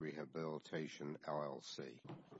Rehabilitation, LLC Rehabilitation, LLC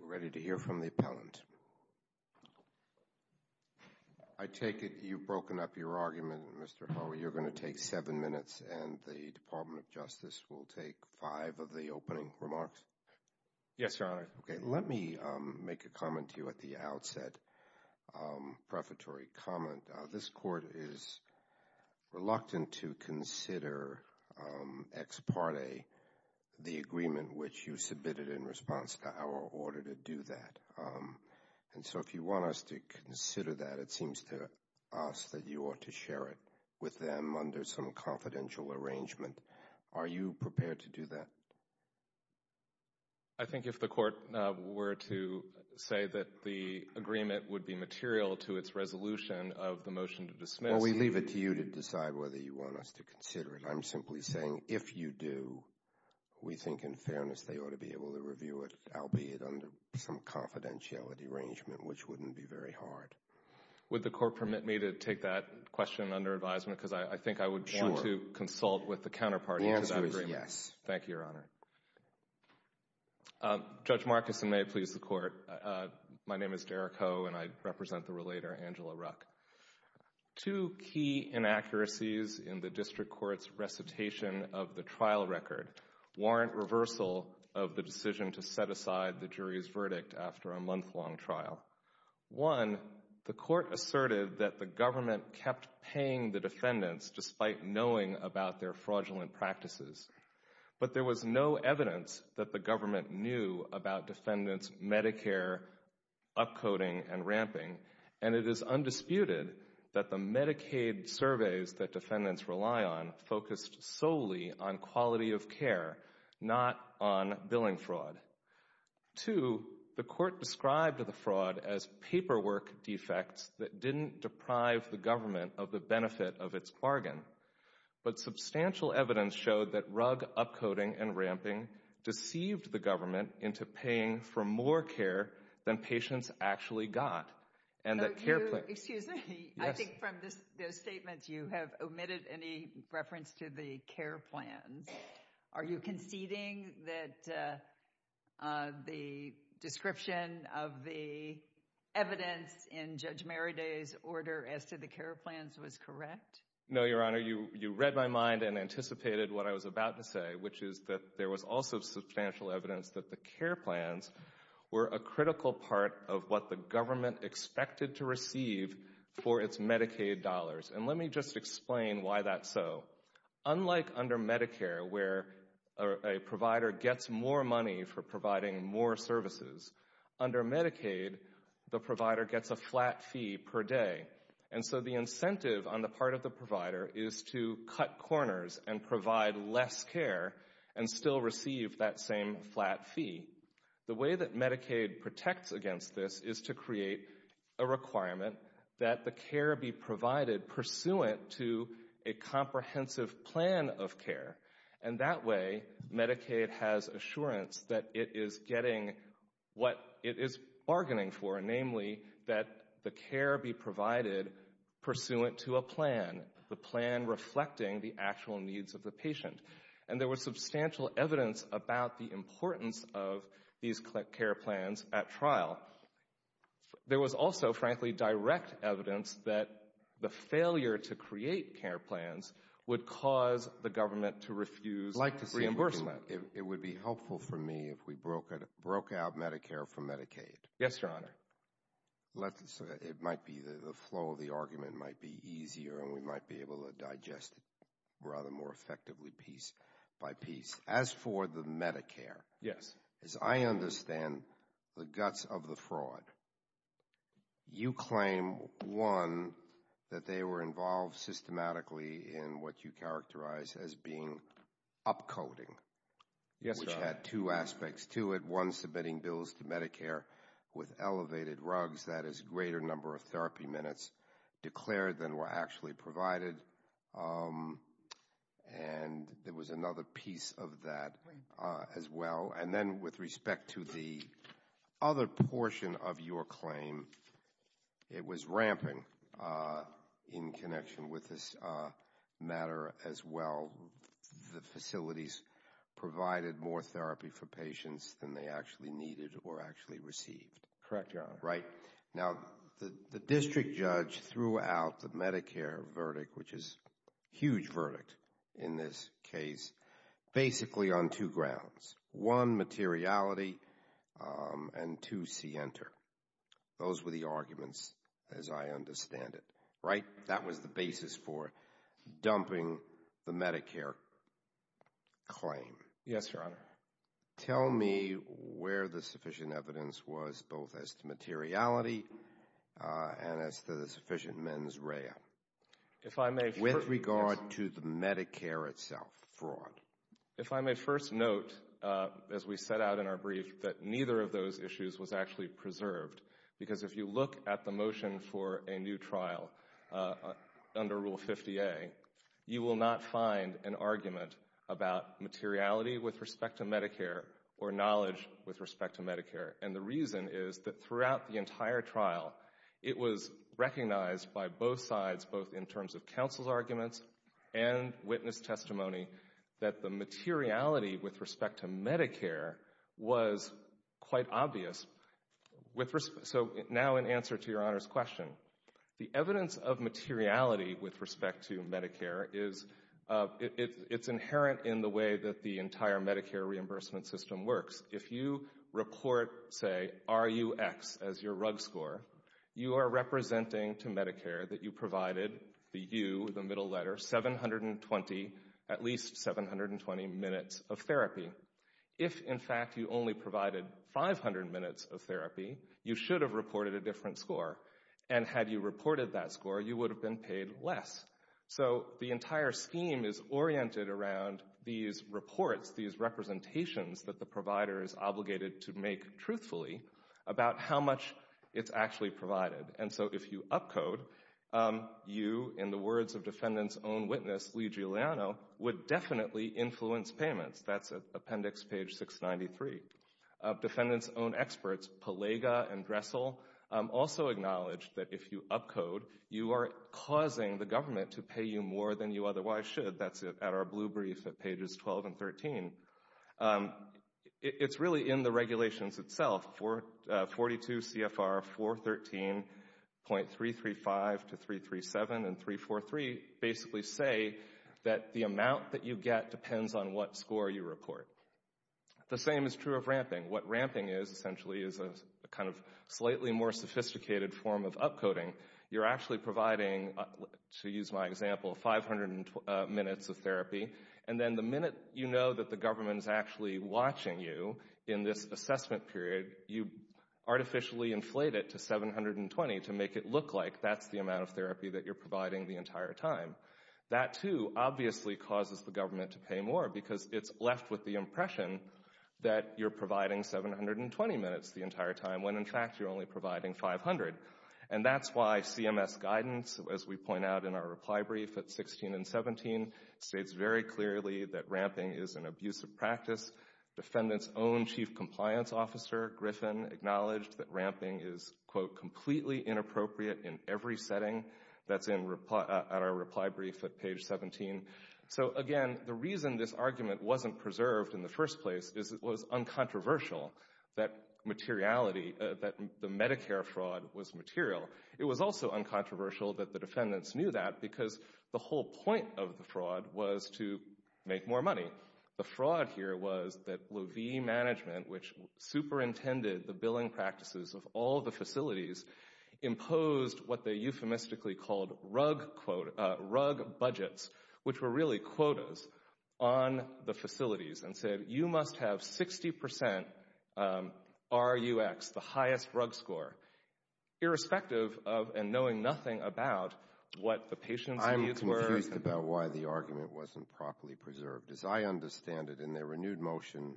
We're ready to hear from the appellant. I take it you've broken up your argument, Mr. Howe. You're going to take 7 minutes, and the Department of Justice will take 5 of the opening remarks? Yes, your Honor. Let me make a comment to you at the outset, a prefatory comment. This Court is reluctant to consider ex parte the agreement which you submitted in response to our order to do that. And so if you want us to consider that, it seems to us that you ought to share it with them under some confidential arrangement. Are you prepared to do that? I think if the Court were to say that the agreement would be material to its resolution of the motion to dismiss. Well, we leave it to you to decide whether you want us to consider it. I'm simply saying, if you do, we think in fairness they ought to be able to review it, albeit under some confidentiality arrangement, which wouldn't be very hard. Would the Court permit me to take that question under advisement? Because I think I would want to consult with the counterparty to that agreement. The answer is yes. Thank you, your Honor. Judge Marcuson, may it please the Court. My name is Derek Ho, and I represent the relator Angela Ruck. Two key inaccuracies in the District Court's recitation of the trial record warrant reversal of the decision to set aside the jury's verdict after a month-long trial. One, the Court asserted that the government kept paying the defendants despite knowing about their fraudulent practices. But there was no evidence that the government knew about defendants' Medicare upcoding and ramping, and it is undisputed that the Medicaid surveys that defendants rely on focused solely on quality of care, not on billing fraud. Two, the Court described the fraud as paperwork defects that didn't deprive the government of the benefit of its bargain. But substantial evidence showed that rug upcoding and ramping deceived the government into paying for more care than patients actually got. And that care plans... No, you... Excuse me. Yes. I think from those statements, you have omitted any reference to the care plans. Are you conceding that the description of the evidence in Judge Merriday's order as to the care plans was correct? No, Your Honor. You read my mind and anticipated what I was about to say, which is that there was also substantial evidence that the care plans were a critical part of what the government expected to receive for its Medicaid dollars. And let me just explain why that's so. Unlike under Medicare, where a provider gets more money for providing more services, under Medicaid, the provider gets a flat fee per day. And so the incentive on the part of the provider is to cut corners and provide less care and still receive that same flat fee. The way that Medicaid protects against this is to create a requirement that the care be provided pursuant to a comprehensive plan of care. And that way, Medicaid has assurance that it is getting what it is bargaining for, namely that the care be provided pursuant to a plan, the plan reflecting the actual needs of the patient. And there was substantial evidence about the importance of these care plans at trial. There was also, frankly, direct evidence that the failure to create care plans would cause the government to refuse reimbursement. It would be helpful for me if we broke out Medicare from Medicaid. Yes, Your Honor. It might be that the flow of the argument might be easier and we might be able to digest it rather more effectively piece by piece. As for the Medicare, as I understand the guts of the fraud, you claim, one, that they were involved systematically in what you characterize as being up-coding, which had two aspects to it. One, submitting bills to Medicare with elevated rugs, that is a greater number of therapy minutes declared than were actually provided. And there was another piece of that as well. And then with respect to the other portion of your claim, it was rampant in connection with this matter as well. The facilities provided more therapy for patients than they actually needed or actually received. Correct, Your Honor. Right. Now, the district judge threw out the Medicare verdict, which is a huge verdict in this case, basically on two grounds. One, materiality, and two, see enter. Those were the arguments, as I understand it. Right? That was the basis for dumping the Medicare claim. Yes, Your Honor. Tell me where the sufficient evidence was both as to materiality and as to the sufficient mens rea with regard to the Medicare itself fraud. If I may first note, as we set out in our brief, that neither of those issues was actually trial under Rule 50A, you will not find an argument about materiality with respect to Medicare or knowledge with respect to Medicare. And the reason is that throughout the entire trial, it was recognized by both sides, both in terms of counsel's arguments and witness testimony, that the materiality with respect to Medicare was quite obvious. With respect, so now in answer to Your Honor's question, the evidence of materiality with respect to Medicare is, it's inherent in the way that the entire Medicare reimbursement system works. If you report, say, RUX as your RUG score, you are representing to Medicare that you provided the U, the middle letter, 720, at least 720 minutes of therapy. If, in fact, you only provided 500 minutes of therapy, you should have reported a different score. And had you reported that score, you would have been paid less. So the entire scheme is oriented around these reports, these representations that the provider is obligated to make truthfully about how much it's actually provided. And so if you upcode, you, in the words of defendant's own witness, Lee Giuliano, would definitely influence payments. That's at appendix page 693. Defendant's own experts, Palega and Dressel, also acknowledged that if you upcode, you are causing the government to pay you more than you otherwise should. That's at our blue brief at pages 12 and 13. It's really in the regulations itself, 42 CFR 413.335 to 337 and 343 basically say that the amount that you get depends on what score you report. The same is true of ramping. What ramping is essentially is a kind of slightly more sophisticated form of upcoding. You're actually providing, to use my example, 500 minutes of therapy. And then the minute you know that the government is actually watching you in this assessment period, you artificially inflate it to 720 to make it look like that's the amount of therapy that you're providing the entire time. That, too, obviously causes the government to pay more because it's left with the impression that you're providing 720 minutes the entire time when in fact you're only providing 500. And that's why CMS guidance, as we point out in our reply brief at 16 and 17, states very clearly that ramping is an abusive practice. Defendant's own chief compliance officer, Griffin, acknowledged that ramping is, quote, at our reply brief at page 17. So, again, the reason this argument wasn't preserved in the first place is it was uncontroversial that materiality, that the Medicare fraud was material. It was also uncontroversial that the defendants knew that because the whole point of the fraud was to make more money. The fraud here was that Levee Management, which superintended the billing practices of all the facilities, imposed what they euphemistically called rug budgets, which were really quotas, on the facilities and said, you must have 60% RUX, the highest rug score, irrespective of and knowing nothing about what the patient's needs were. I'm confused about why the argument wasn't properly preserved. As I understand it, in their renewed motion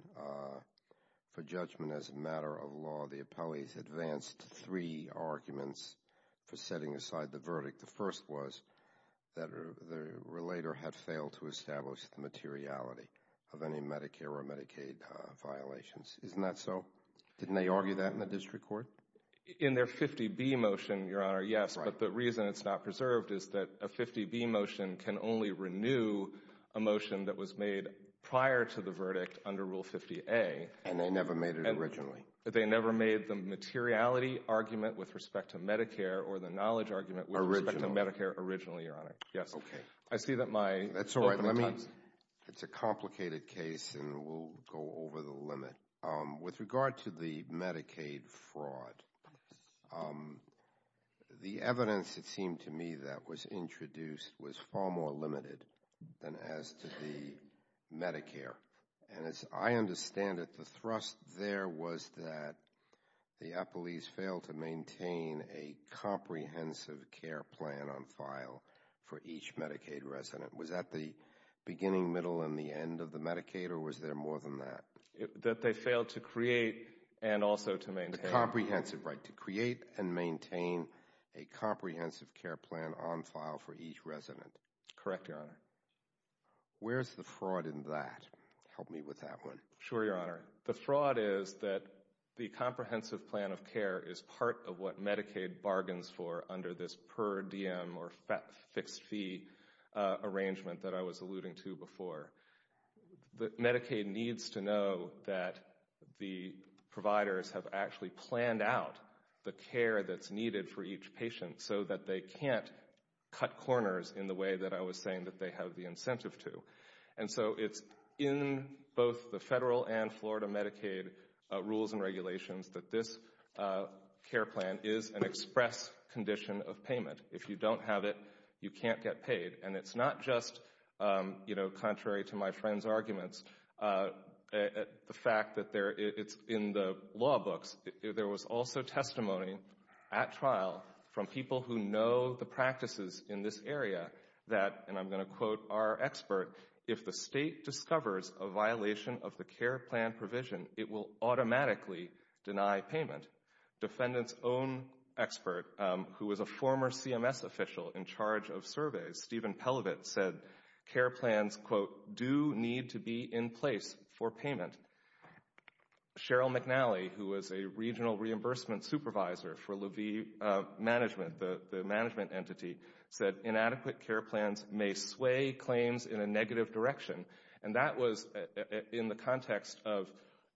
for judgment as a matter of law, the appellee advanced three arguments for setting aside the verdict. The first was that the relator had failed to establish the materiality of any Medicare or Medicaid violations. Isn't that so? Didn't they argue that in the district court? In their 50B motion, Your Honor, yes, but the reason it's not preserved is that a 50B motion can only renew a motion that was made prior to the verdict under Rule 50A. And they never made it originally. But they never made the materiality argument with respect to Medicare or the knowledge argument with respect to Medicare originally, Your Honor. Yes. I see that my— That's all right. It's a complicated case, and we'll go over the limit. With regard to the Medicaid fraud, the evidence, it seemed to me, that was introduced was far more limited than as to the Medicare. And as I understand it, the thrust there was that the appellees failed to maintain a comprehensive care plan on file for each Medicaid resident. Was that the beginning, middle, and the end of the Medicaid, or was there more than that? That they failed to create and also to maintain— The comprehensive, right, to create and maintain a comprehensive care plan on file for each resident. Correct, Your Honor. Where's the fraud in that? Help me with that one. Sure, Your Honor. The fraud is that the comprehensive plan of care is part of what Medicaid bargains for under this per diem or fixed fee arrangement that I was alluding to before. That Medicaid needs to know that the providers have actually planned out the care that's needed for each patient so that they can't cut corners in the way that I was saying that they have the incentive to. And so it's in both the federal and Florida Medicaid rules and regulations that this care plan is an express condition of payment. If you don't have it, you can't get paid. And it's not just, you know, contrary to my friend's arguments, the fact that it's in the law books. There was also testimony at trial from people who know the practices in this area that, and I'm going to quote our expert, if the state discovers a violation of the care plan provision, it will automatically deny payment. Defendant's own expert, who was a former CMS official in charge of surveys, Stephen Pelovit, said care plans, quote, do need to be in place for payment. Cheryl McNally, who was a regional reimbursement supervisor for Levee Management, the may sway claims in a negative direction. And that was in the context of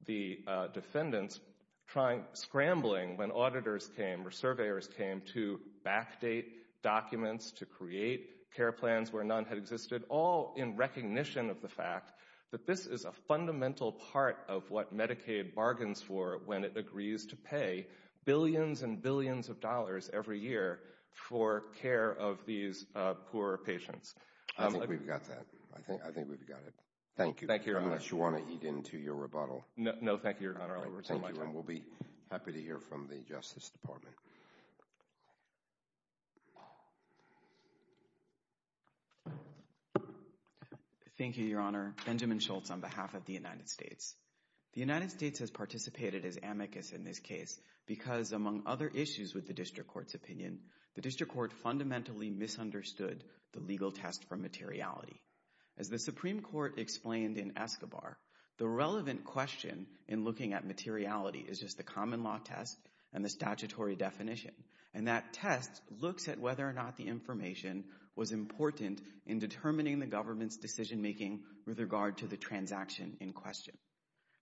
the defendants trying, scrambling when auditors came or surveyors came to backdate documents, to create care plans where none had existed, all in recognition of the fact that this is a fundamental part of what Medicaid bargains for when it agrees to pay billions and billions of dollars every year for care of these poor patients. I think we've got that. I think we've got it. Thank you. Thank you, Your Honor. Unless you want to eat into your rebuttal. No, thank you, Your Honor. I'll retain my time. Thank you, and we'll be happy to hear from the Justice Department. Thank you, Your Honor. Benjamin Schultz on behalf of the United States. The United States has participated as amicus in this case because, among other issues with the district court's opinion, the district court fundamentally misunderstood the legal test for materiality. As the Supreme Court explained in Escobar, the relevant question in looking at materiality is just the common law test and the statutory definition. And that test looks at whether or not the information was important in determining the government's decision making with regard to the transaction in question.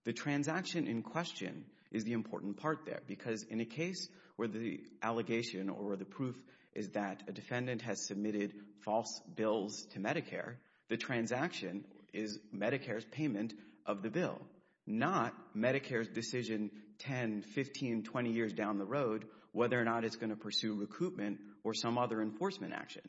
The transaction in question is the important part there. Because in a case where the allegation or the proof is that a defendant has submitted false bills to Medicare, the transaction is Medicare's payment of the bill, not Medicare's decision 10, 15, 20 years down the road, whether or not it's going to pursue recoupment or some other enforcement action.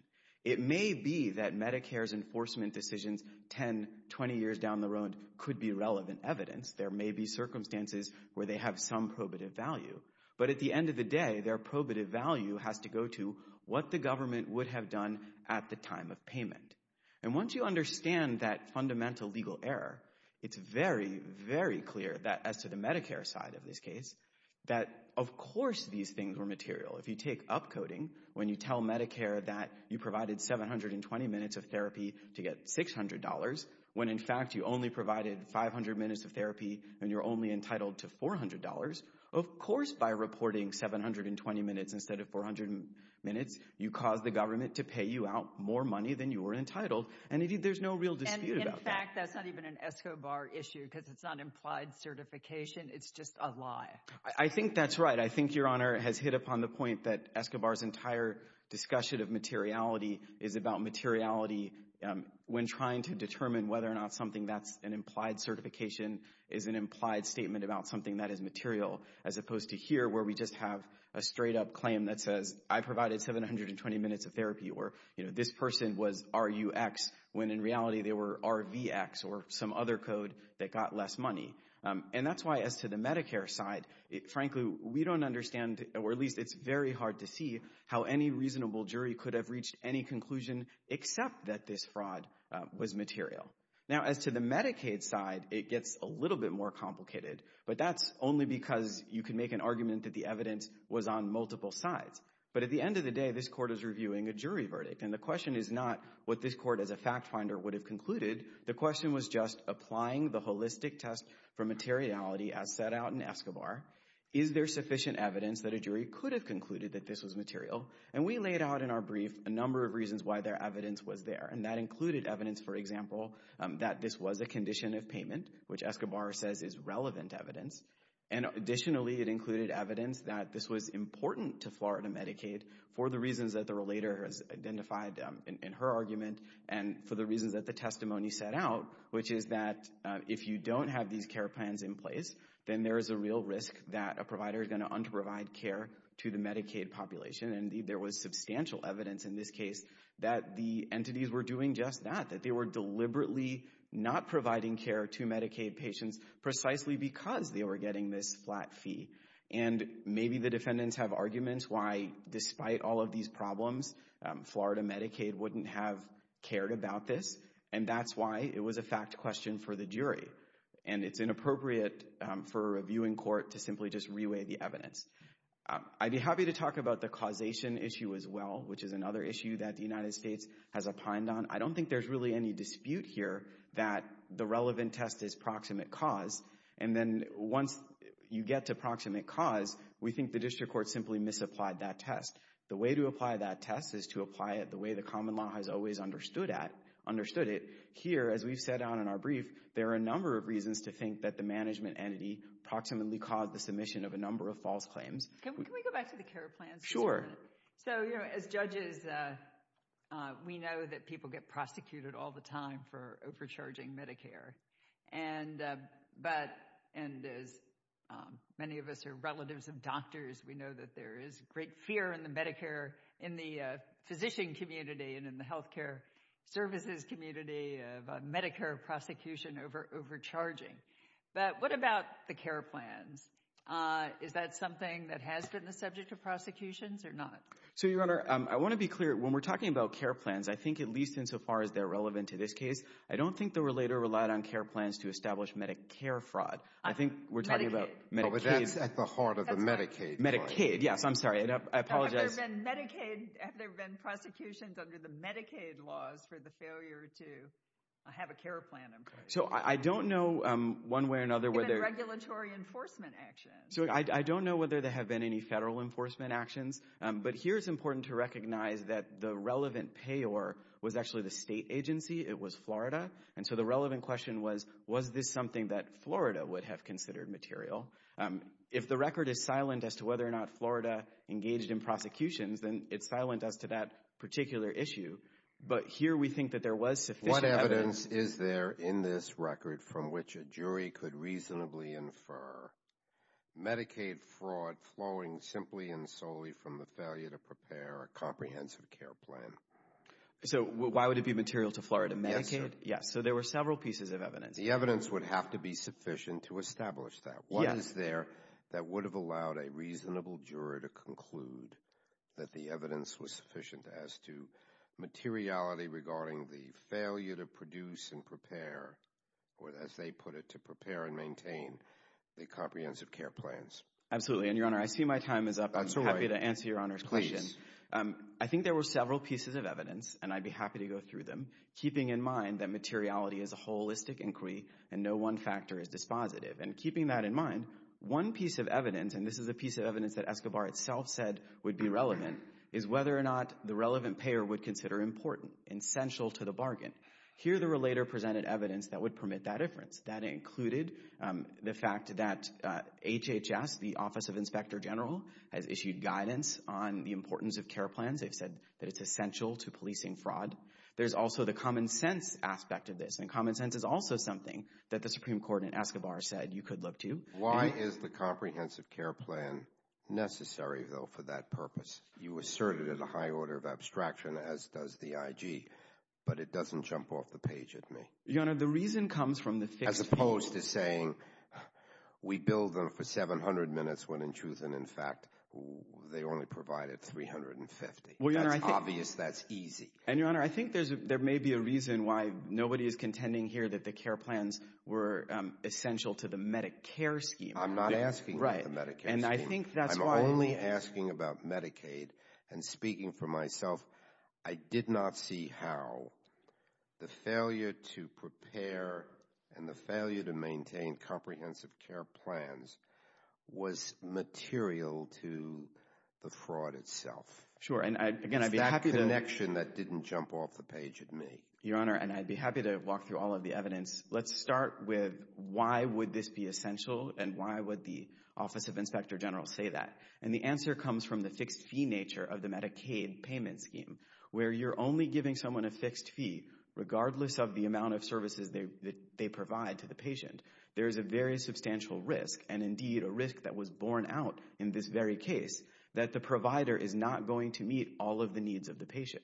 It may be that Medicare's enforcement decisions 10, 20 years down the road could be relevant evidence. There may be circumstances where they have some probative value. But at the end of the day, their probative value has to go to what the government would have done at the time of payment. And once you understand that fundamental legal error, it's very, very clear that, as to the Medicare side of this case, that of course these things were material. If you take upcoding, when you tell Medicare that you provided 720 minutes of therapy to $600, when in fact you only provided 500 minutes of therapy and you're only entitled to $400, of course by reporting 720 minutes instead of 400 minutes, you cause the government to pay you out more money than you were entitled. And there's no real dispute about that. And in fact, that's not even an ESCOBAR issue, because it's not implied certification. It's just a lie. I think that's right. I think Your Honor has hit upon the point that ESCOBAR's entire discussion of materiality is about materiality when trying to determine whether or not something that's an implied certification is an implied statement about something that is material, as opposed to here where we just have a straight-up claim that says, I provided 720 minutes of therapy, or this person was RUX, when in reality they were RVX or some other code that got less money. And that's why, as to the Medicare side, frankly, we don't understand, or at least it's very except that this fraud was material. Now, as to the Medicaid side, it gets a little bit more complicated. But that's only because you can make an argument that the evidence was on multiple sides. But at the end of the day, this court is reviewing a jury verdict. And the question is not what this court as a fact finder would have concluded. The question was just applying the holistic test for materiality as set out in ESCOBAR. Is there sufficient evidence that a jury could have concluded that this was material? And we laid out in our brief a number of reasons why their evidence was there. And that included evidence, for example, that this was a condition of payment, which ESCOBAR says is relevant evidence. And additionally, it included evidence that this was important to Florida Medicaid for the reasons that the relator has identified in her argument, and for the reasons that the testimony set out, which is that if you don't have these care plans in place, then there is a real risk that a provider is going to under-provide care to the Medicaid population. And there was substantial evidence in this case that the entities were doing just that, that they were deliberately not providing care to Medicaid patients precisely because they were getting this flat fee. And maybe the defendants have arguments why, despite all of these problems, Florida Medicaid wouldn't have cared about this. And that's why it was a fact question for the jury. And it's inappropriate for a reviewing court to simply just reweigh the evidence. I'd be happy to talk about the causation issue as well, which is another issue that the United States has opined on. I don't think there's really any dispute here that the relevant test is proximate cause. And then once you get to proximate cause, we think the district court simply misapplied that test. The way to apply that test is to apply it the way the common law has always understood it. Here, as we've said on our brief, there are a number of reasons to think that the management entity proximately caused the submission of a number of false claims. Can we go back to the care plans? Sure. So, as judges, we know that people get prosecuted all the time for overcharging Medicare. And as many of us are relatives of doctors, we know that there is great fear in the Medicare, in the physician community and in the health care services community, of Medicare prosecution over overcharging. But what about the care plans? Is that something that has been the subject of prosecutions or not? So, Your Honor, I want to be clear. When we're talking about care plans, I think at least insofar as they're relevant to this case, I don't think they were later relied on care plans to establish Medicare fraud. I think we're talking about Medicaid. But that's at the heart of the Medicaid. Medicaid. Yes, I'm sorry. I apologize. Have there been prosecutions under the Medicaid laws for the failure to have a care plan? So, I don't know one way or another whether... So, I don't know whether there have been any federal enforcement actions. But here it's important to recognize that the relevant payor was actually the state agency. It was Florida. And so the relevant question was, was this something that Florida would have considered material? If the record is silent as to whether or not Florida engaged in prosecutions, then it's silent as to that particular issue. But here we think that there was sufficient evidence... What evidence is there in this record from which a jury could reasonably infer? Medicaid fraud flowing simply and solely from the failure to prepare a comprehensive care plan. So, why would it be material to Florida Medicaid? Yes. So, there were several pieces of evidence. The evidence would have to be sufficient to establish that. What is there that would have allowed a reasonable juror to conclude that the evidence was sufficient as to materiality regarding the failure to produce and prepare, or as they put it, to prepare and maintain the comprehensive care plans? Absolutely. And, Your Honor, I see my time is up. I'm happy to answer Your Honor's question. I think there were several pieces of evidence, and I'd be happy to go through them, keeping in mind that materiality is a holistic inquiry and no one factor is dispositive. And keeping that in mind, one piece of evidence, and this is a piece of evidence that Escobar itself said would be relevant, is whether or not the relevant payer would consider important, essential to the bargain. Here, the relator presented evidence that would permit that difference. That included the fact that HHS, the Office of Inspector General, has issued guidance on the importance of care plans. They've said that it's essential to policing fraud. There's also the common sense aspect of this, and common sense is also something that the Supreme Court in Escobar said you could look to. Why is the comprehensive care plan necessary, though, for that purpose? You asserted it in a high order of abstraction, as does the IG, but it doesn't jump off the page at me. Your Honor, the reason comes from the fixed fee. As opposed to saying we billed them for 700 minutes when, in truth and in fact, they only provided 350. Well, Your Honor, I think... It's obvious that's easy. And, Your Honor, I think there may be a reason why nobody is contending here that the care plans were essential to the Medicare scheme. I'm not asking about the Medicare scheme. And I think that's why... I'm only asking about Medicaid. And speaking for myself, I did not see how the failure to prepare and the failure to maintain comprehensive care plans was material to the fraud itself. Sure. And, again, I'd be happy to... It's that connection that didn't jump off the page at me. Your Honor, and I'd be happy to walk through all of the evidence. Let's start with why would this be essential, and why would the Office of Inspector General say that? And the answer comes from the fixed fee nature of the Medicaid payment scheme, where you're only giving someone a fixed fee, regardless of the amount of services that they provide to the patient. There is a very substantial risk, and indeed a risk that was borne out in this very case, that the provider is not going to meet all of the needs of the patient.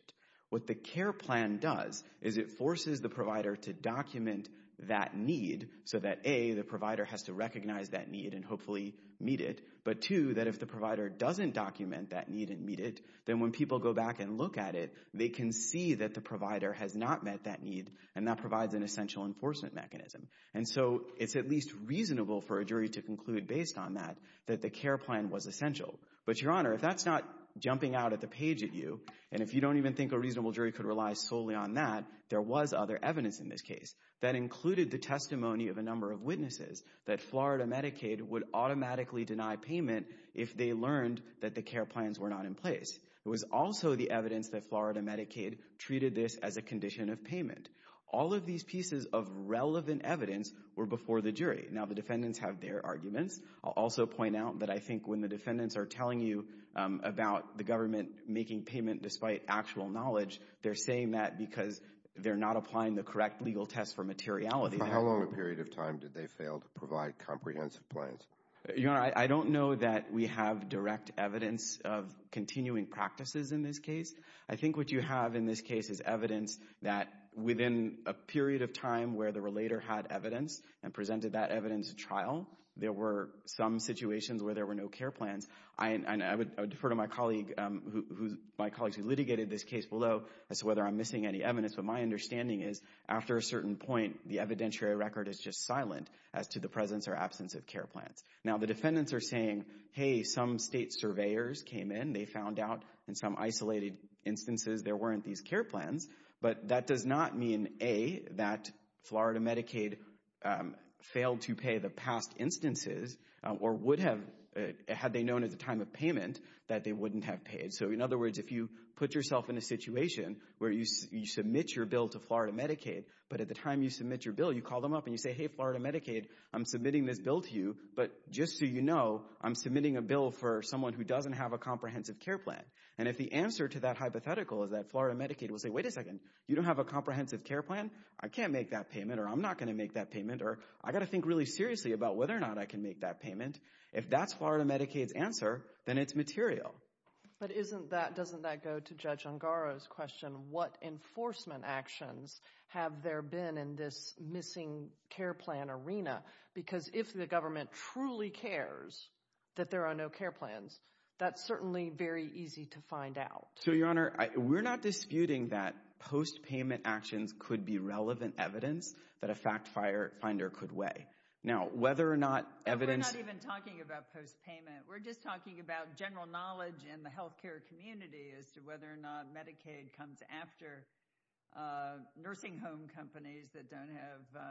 What the care plan does is it forces the provider to document that need, so that, A, the provider has to recognize that need and hopefully meet it, but, two, that if the provider doesn't document that need and meet it, then when people go back and look at it, they can see that the provider has not met that need, and that provides an essential enforcement mechanism. And so it's at least reasonable for a jury to conclude, based on that, that the care plan was essential. But, Your Honor, if that's not jumping out at the page at you, and if you don't even think a reasonable jury could rely solely on that, there was other evidence in this case that included the testimony of a number of witnesses that Florida Medicaid would automatically deny payment if they learned that the care plans were not in place. It was also the evidence that Florida Medicaid treated this as a condition of payment. All of these pieces of relevant evidence were before the jury. Now, the defendants have their arguments. I'll also point out that I think when the defendants are telling you about the government making payment despite actual knowledge, they're saying that because they're not applying the correct legal test for materiality. How long a period of time did they fail to provide comprehensive plans? Your Honor, I don't know that we have direct evidence of continuing practices in this case. I think what you have in this case is evidence that within a period of time where the relator had evidence and presented that evidence at trial, there were some situations where there were no care plans. I would defer to my colleagues who litigated this case below as to whether I'm missing any evidence. But my understanding is after a certain point, the evidentiary record is just silent as to the presence or absence of care plans. Now, the defendants are saying, hey, some state surveyors came in. They found out in some isolated instances there weren't these care plans. But that does not mean, A, that Florida Medicaid failed to pay the past instances or would have, had they known at the time of payment that they wouldn't have paid. So in other words, if you put yourself in a situation where you submit your bill to Florida Medicaid, but at the time you submit your bill, you call them up and you say, hey, Florida Medicaid, I'm submitting this bill to you. But just so you know, I'm submitting a bill for someone who doesn't have a comprehensive care plan. And if the answer to that hypothetical is that Florida Medicaid will say, wait a second, you don't have a comprehensive care plan? I can't make that payment or I'm not going to make that payment or I got to think really seriously about whether or not I can make that payment. If that's Florida Medicaid's answer, then it's material. But isn't that, doesn't that go to Judge Ungaro's question? What enforcement actions have there been in this missing care plan arena? Because if the government truly cares that there are no care plans, that's certainly very easy to find out. So, Your Honor, we're not disputing that post-payment actions could be relevant evidence that a fact finder could weigh. Now, whether or not evidence... We're not even talking about post-payment. We're just talking about general knowledge in the healthcare community as to whether or not Medicaid comes after nursing home companies that don't have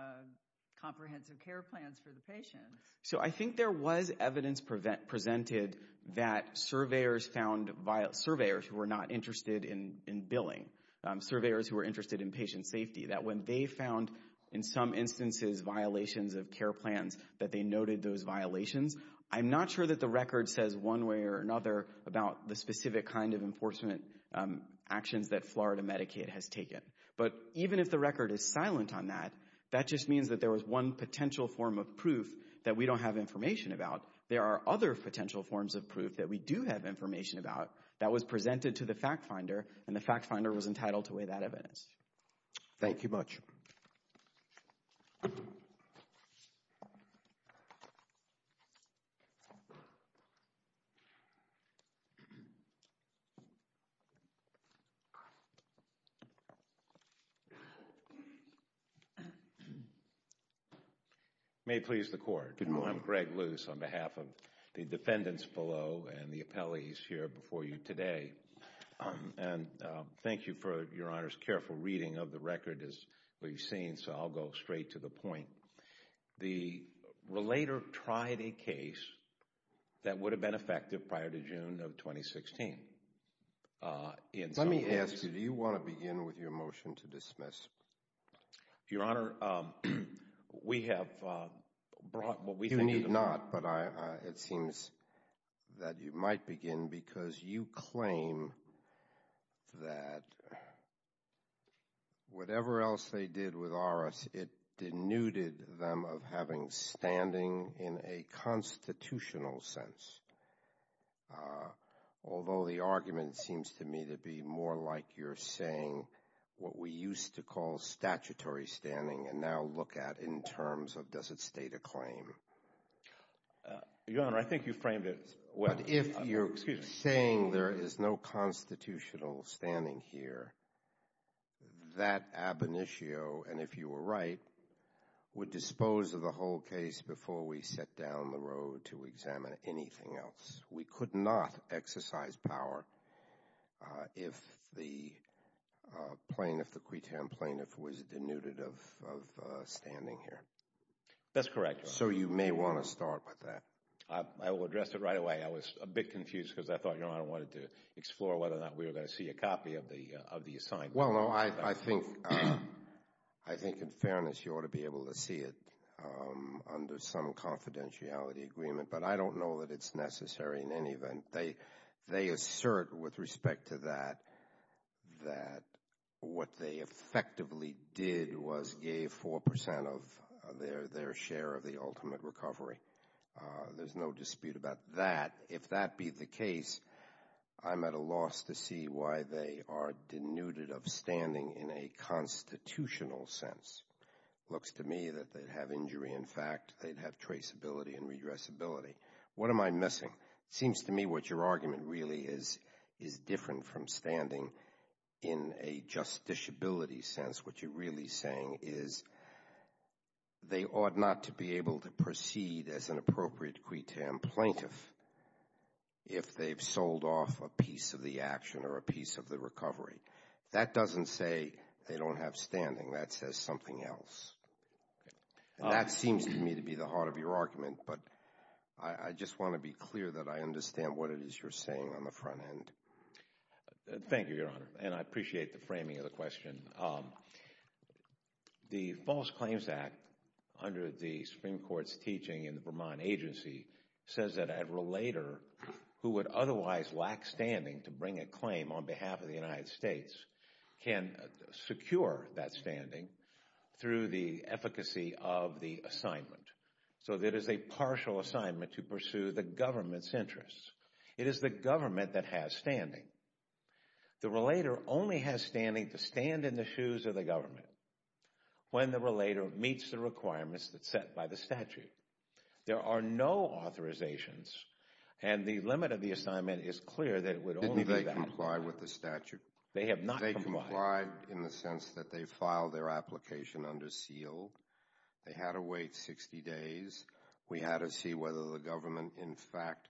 comprehensive care plans for the patients. So, I think there was evidence presented that surveyors found, surveyors who were not interested in billing, surveyors who were interested in patient safety, that when they found in some instances violations of care plans that they noted those violations. I'm not sure that the record says one way or another about the specific kind of enforcement actions that Florida Medicaid has taken. But even if the record is silent on that, that just means that there was one potential form of proof that we don't have information about. There are other potential forms of proof that we do have information about that was presented to the fact finder, and the fact finder was entitled to weigh that evidence. Thank you much. May it please the court. Good morning. I'm Greg Luce on behalf of the defendants below and the appellees here before you today. And thank you for your honor's careful reading of the record as we've seen. So, I'll go straight to the point. The relator tried a case that would have been effective prior to June of 2016. Let me ask you, do you want to begin with your motion to dismiss? Your honor, we have brought what we think... You need not, but it seems that you might begin because you claim that whatever else they did with ARAS, it denuded them of having standing in a constitutional sense. Although the argument seems to me to be more like you're saying what we used to call statutory standing and now look at in terms of does it state a claim? Your honor, I think you framed it. What if you're saying there is no constitutional standing here, that ab initio, and if you were right, would dispose of the whole case before we set down the road to examine anything else. We could not exercise power if the plaintiff, the qui tam plaintiff was denuded of standing here. That's correct. So, you may want to start with that. I will address it right away. I was a bit confused because I thought your honor wanted to Well, no, I think in fairness, you ought to be able to see it under some confidentiality agreement, but I don't know that it's necessary in any event. They assert with respect to that, that what they effectively did was gave 4% of their share of the ultimate recovery. There's no dispute about that. If that be the case, I'm at a loss to see why they are denuded of standing in a constitutional sense. Looks to me that they'd have injury in fact. They'd have traceability and redressability. What am I missing? It seems to me what your argument really is, is different from standing in a justiciability sense. What you're really saying is they ought not to be able to proceed as an appropriate qui tam plaintiff. If they've sold off a piece of the action or a piece of the recovery. That doesn't say they don't have standing. That says something else. That seems to me to be the heart of your argument, but I just want to be clear that I understand what it is you're saying on the front end. Thank you, your honor, and I appreciate the framing of the question. The False Claims Act under the Supreme Court's teaching in the Vermont agency says that a relator who would otherwise lack standing to bring a claim on behalf of the United States can secure that standing through the efficacy of the assignment. So that is a partial assignment to pursue the government's interests. It is the government that has standing. The relator only has standing to stand in the shoes of the government when the relator meets the requirements that's set by the statute. There are no authorizations and the limit of the assignment is clear that it would only be valid. Did they comply with the statute? They have not complied. They complied in the sense that they filed their application under seal. They had to wait 60 days. We had to see whether the government, in fact,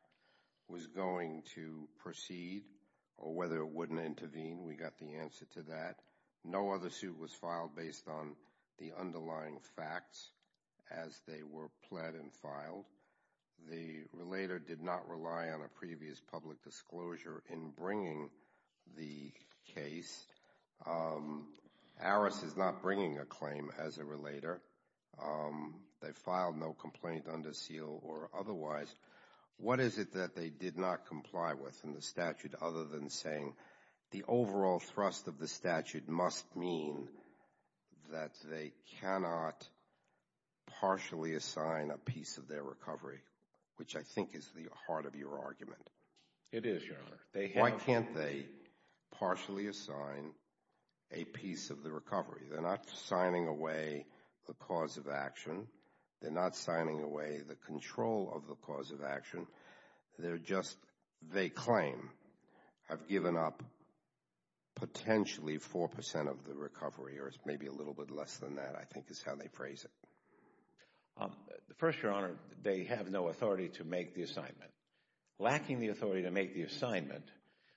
was going to proceed or whether it wouldn't intervene. We got the answer to that. No other suit was filed based on the underlying facts as they were pled and filed. The relator did not rely on a previous public disclosure in bringing the case. Harris is not bringing a claim as a relator. They filed no complaint under seal or otherwise. What is it that they did not comply with in the statute other than saying the overall thrust of the statute must mean that they cannot partially assign a piece of their recovery, which I think is the heart of your argument? It is, Your Honor. Why can't they partially assign a piece of the recovery? They're not signing away the cause of action. They're not signing away the control of the cause of action. They're just, they claim, have given up potentially four percent of the recovery or maybe a little bit less than that, I think is how they phrase it. First, Your Honor, they have no authority to make the assignment. Lacking the authority to make the assignment,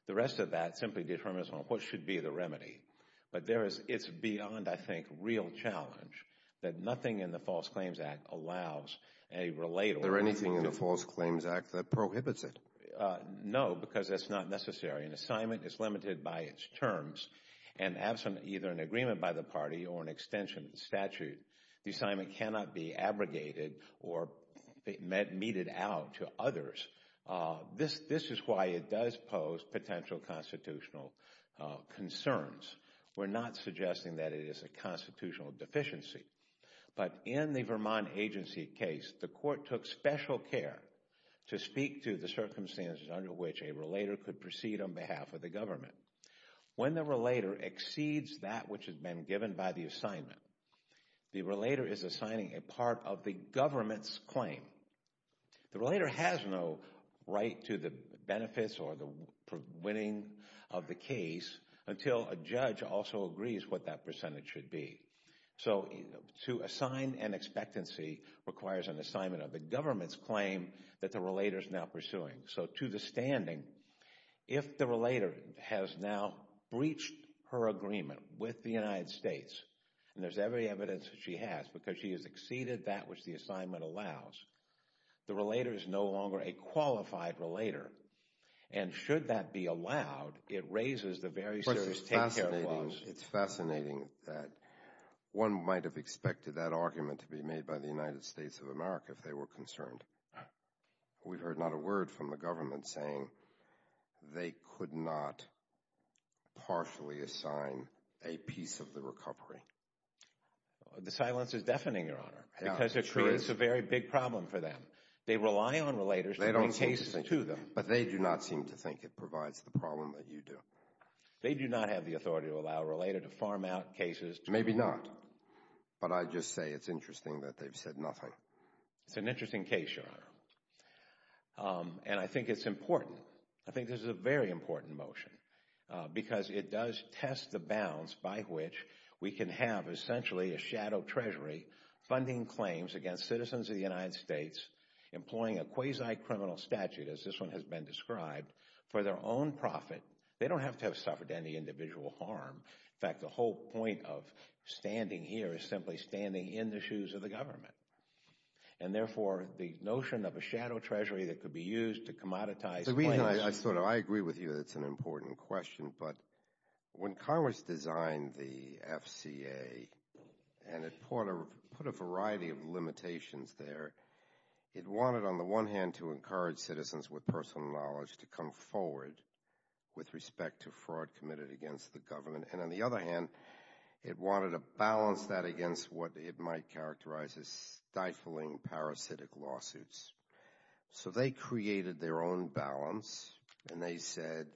the rest of that simply determines what should be the remedy. But there is, it's beyond, I think, real challenge that nothing in the False Claims Act allows a relator. Is there anything in the False Claims Act that prohibits it? No, because that's not necessary. An assignment is limited by its terms and absent either an agreement by the party or an extension statute, the assignment cannot be abrogated or met, meted out to others. This is why it does pose potential constitutional concerns. We're not suggesting that it is a constitutional deficiency. But in the Vermont agency case, the court took special care to speak to the circumstances under which a relator could proceed on behalf of the government. When the relator exceeds that which has been given by the assignment, the relator is assigning a part of the government's claim. The relator has no right to the benefits or the winning of the case until a judge also agrees what that percentage should be. So, to assign an expectancy requires an assignment of the government's claim that the relator is now pursuing. So, to the standing, if the relator has now breached her agreement with the United States, and there's every evidence that she has because she has exceeded that which the assignment allows, the relator is no longer a qualified relator. And should that be allowed, it raises the very serious take care of laws. It's fascinating that one might have expected that argument to be made by the United States of America if they were concerned. We've heard not a word from the government saying they could not partially assign a piece of the recovery. The silence is deafening, Your Honor, because it creates a very big problem for them. They rely on relators to bring cases to them. But they do not seem to think it provides the problem that you do. They do not have the authority to allow a relator to farm out cases. Maybe not. But I just say it's interesting that they've said nothing. It's an interesting case, Your Honor. And I think it's important. I think this is a very important motion because it does test the bounds by which we can have essentially a shadow treasury funding claims against citizens of the United States employing a quasi-criminal statute, as this one has been described, for their own profit. They don't have to have suffered any individual harm. In fact, the whole point of standing here is simply standing in the shoes of the government. And therefore, the notion of a shadow treasury that could be used to commoditize claims— So, I agree with you that it's an important question. But when Congress designed the FCA and it put a variety of limitations there, it wanted, on the one hand, to encourage citizens with personal knowledge to come forward with respect to fraud committed against the government. And on the other hand, it wanted to balance that against what it might characterize as stifling parasitic lawsuits. So, they created their own balance. And they said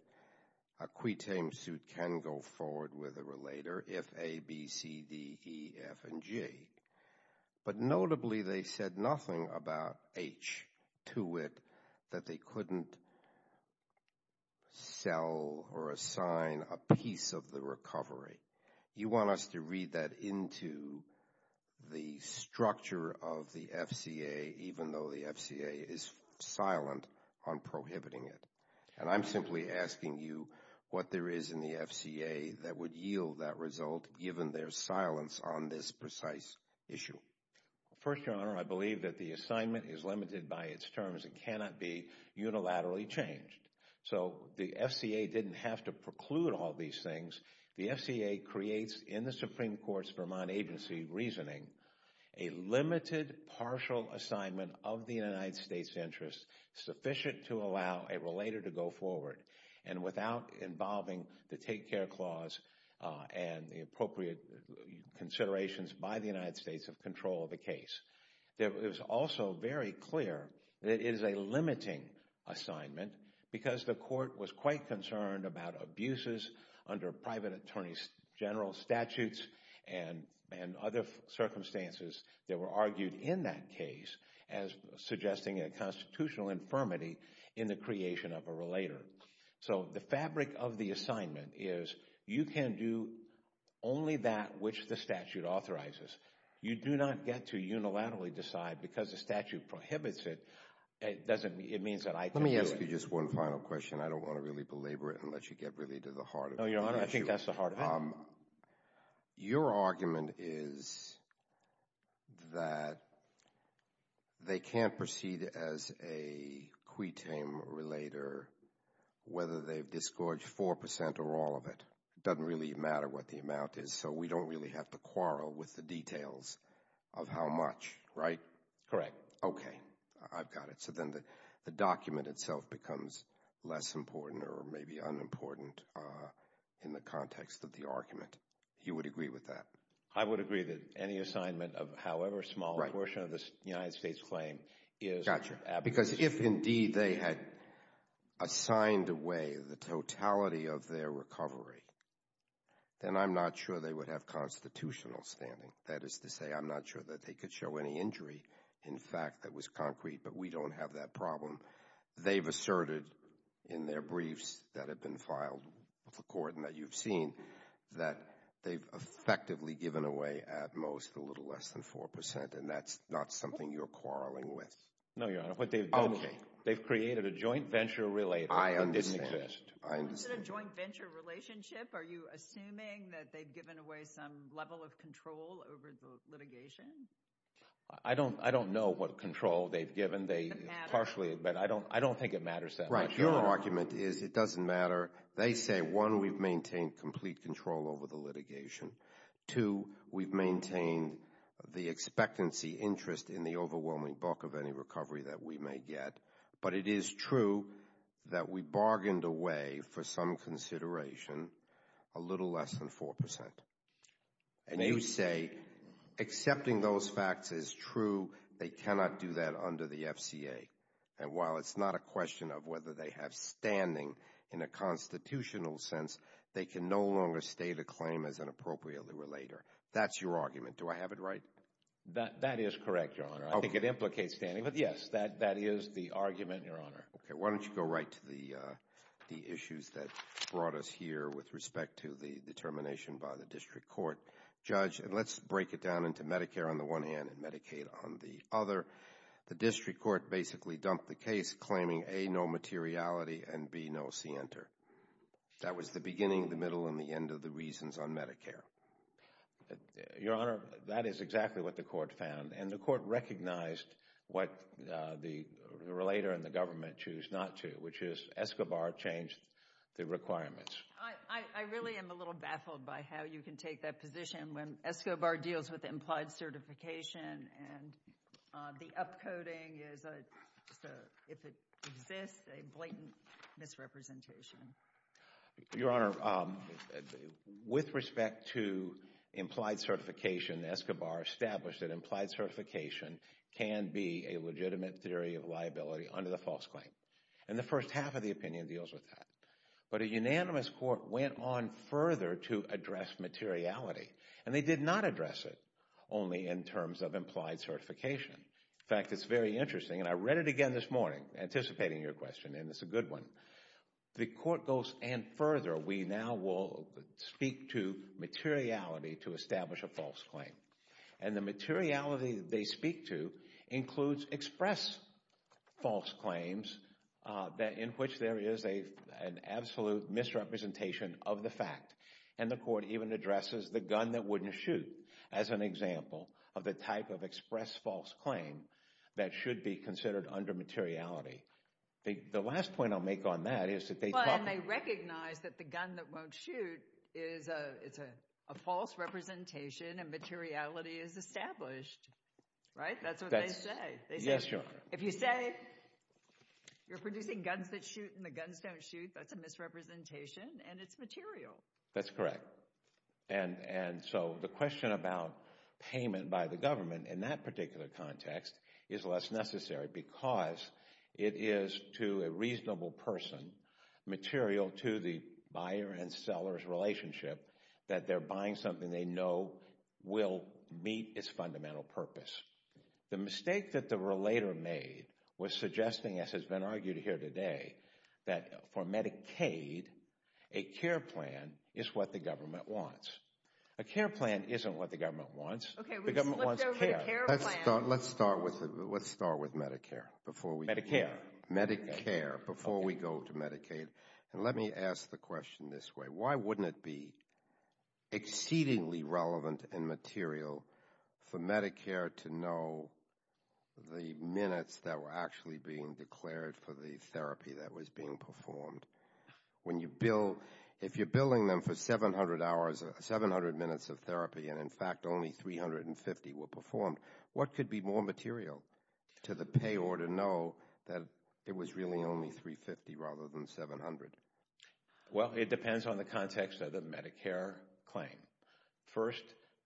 a quitame suit can go forward with a relator if A, B, C, D, E, F, and G. But notably, they said nothing about H to it that they couldn't sell or assign a piece of the recovery. You want us to read that into the structure of the FCA, even though the FCA is silent on prohibiting it. And I'm simply asking you what there is in the FCA that would yield that result, given their silence on this precise issue. First, Your Honor, I believe that the assignment is limited by its terms. It cannot be unilaterally changed. So, the FCA didn't have to preclude all these things. The FCA creates, in the Supreme Court's Vermont agency reasoning, a limited partial assignment of the United States' interests sufficient to allow a relator to go forward. And without involving the Take Care Clause and the appropriate considerations by the United States of control of the case. It was also very clear that it is a limiting assignment because the court was quite concerned about abuses under private attorney general statutes and other circumstances that were argued in that case as suggesting a constitutional infirmity in the creation of a relator. So, the fabric of the assignment is you can do only that which the statute authorizes. You do not get to unilaterally decide because the statute prohibits it, it doesn't, it means that I can do it. Let me ask you just one final question. I don't want to really belabor it and let you get really to the heart of the issue. No, Your Honor, I think that's the heart of it. Your argument is that they can't proceed as a quitame relator whether they've disgorged 4% or all of it. It doesn't really matter what the amount is, so we don't really have to quarrel with the details of how much, right? Correct. Okay, I've got it. So, then the document itself becomes less important or maybe unimportant in the context of the argument. You would agree with that? I would agree that any assignment of however small a portion of the United States claim is... Gotcha. Because if indeed they had assigned away the totality of their recovery, then I'm not sure they would have constitutional standing. That is to say, I'm not sure that they could show any injury in fact that was concrete, but we don't have that problem. They've asserted in their briefs that have been filed with the court and that you've seen that they've effectively given away at most a little less than 4%, and that's not something you're quarreling with. No, Your Honor, what they've done... Okay. They've created a joint venture relator that didn't exist. I understand. I understand. Is it a joint venture relationship? Are you assuming that they've given away some level of control over the litigation? I don't know what control they've given. Partially, but I don't think it matters that much. Right. Your argument is it doesn't matter. They say, one, we've maintained complete control over the litigation. Two, we've maintained the expectancy interest in the overwhelming bulk of any recovery that we may get, but it is true that we bargained away for some consideration a little less than 4%. And you say accepting those facts is true. They cannot do that under the FCA, and while it's not a question of whether they have standing in a constitutional sense, they can no longer state a claim as an appropriately relator. That's your argument. Do I have it right? That is correct, Your Honor. I think it implicates standing, but yes, that is the argument, Your Honor. Okay. Why don't you go right to the issues that brought us here with respect to the determination by the district court. Judge, and let's break it down into Medicare on the one hand and Medicaid on the other. The district court basically dumped the case, claiming A, no materiality, and B, no scienter. That was the beginning, the middle, and the end of the reasons on Medicare. Your Honor, that is exactly what the court found, and the court recognized what the relator and the government choose not to, which is Escobar changed the requirements. I really am a little baffled by how you can take that position when Escobar deals with implied certification and the upcoding is, if it exists, a blatant misrepresentation. Your Honor, with respect to implied certification, Escobar established that implied certification can be a legitimate theory of liability under the false claim, and the first half of the opinion deals with that. But a unanimous court went on further to address materiality, and they did not address it only in terms of implied certification. In fact, it's very interesting, and I read it again this morning, anticipating your question, and it's a good one. The court goes, and further, we now will speak to materiality to establish a false claim. And the materiality they speak to includes express false claims in which there is an absolute misrepresentation of the fact. And the court even addresses the gun that wouldn't shoot as an example of the type of express false claim that should be considered under materiality. The last point I'll make on that is that they talk— Materiality is established, right? That's what they say. Yes, Your Honor. If you say you're producing guns that shoot and the guns don't shoot, that's a misrepresentation, and it's material. That's correct. And so the question about payment by the government in that particular context is less necessary because it is, to a reasonable person, material to the buyer and seller's relationship that they're buying something they know will meet its fundamental purpose. The mistake that the relator made was suggesting, as has been argued here today, that for Medicaid, a care plan is what the government wants. A care plan isn't what the government wants. Okay, we just flipped over the care plan. Let's start with Medicare before we— Medicare. Medicare, before we go to Medicaid. And let me ask the question this way. Why wouldn't it be exceedingly relevant and material for Medicare to know the minutes that were actually being declared for the therapy that was being performed? If you're billing them for 700 minutes of therapy and, in fact, only 350 were performed, what could be more material to the payor to know that it was really only 350 rather than 700? Well, it depends on the context of the Medicare claim. First,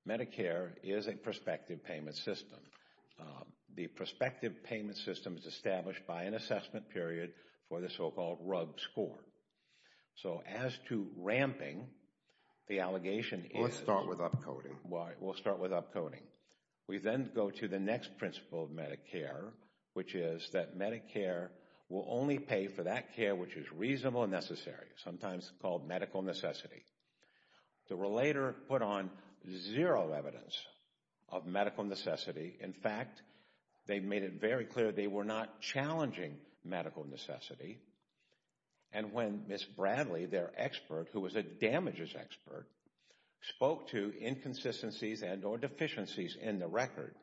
Medicare is a prospective payment system. The prospective payment system is established by an assessment period for the so-called RUG score. So as to ramping, the allegation is— Let's start with upcoding. We'll start with upcoding. We then go to the next principle of Medicare, which is that Medicare will only pay for that sometimes called medical necessity. The relator put on zero evidence of medical necessity. In fact, they made it very clear they were not challenging medical necessity. And when Ms. Bradley, their expert, who was a damages expert, spoke to inconsistencies and or deficiencies in the record,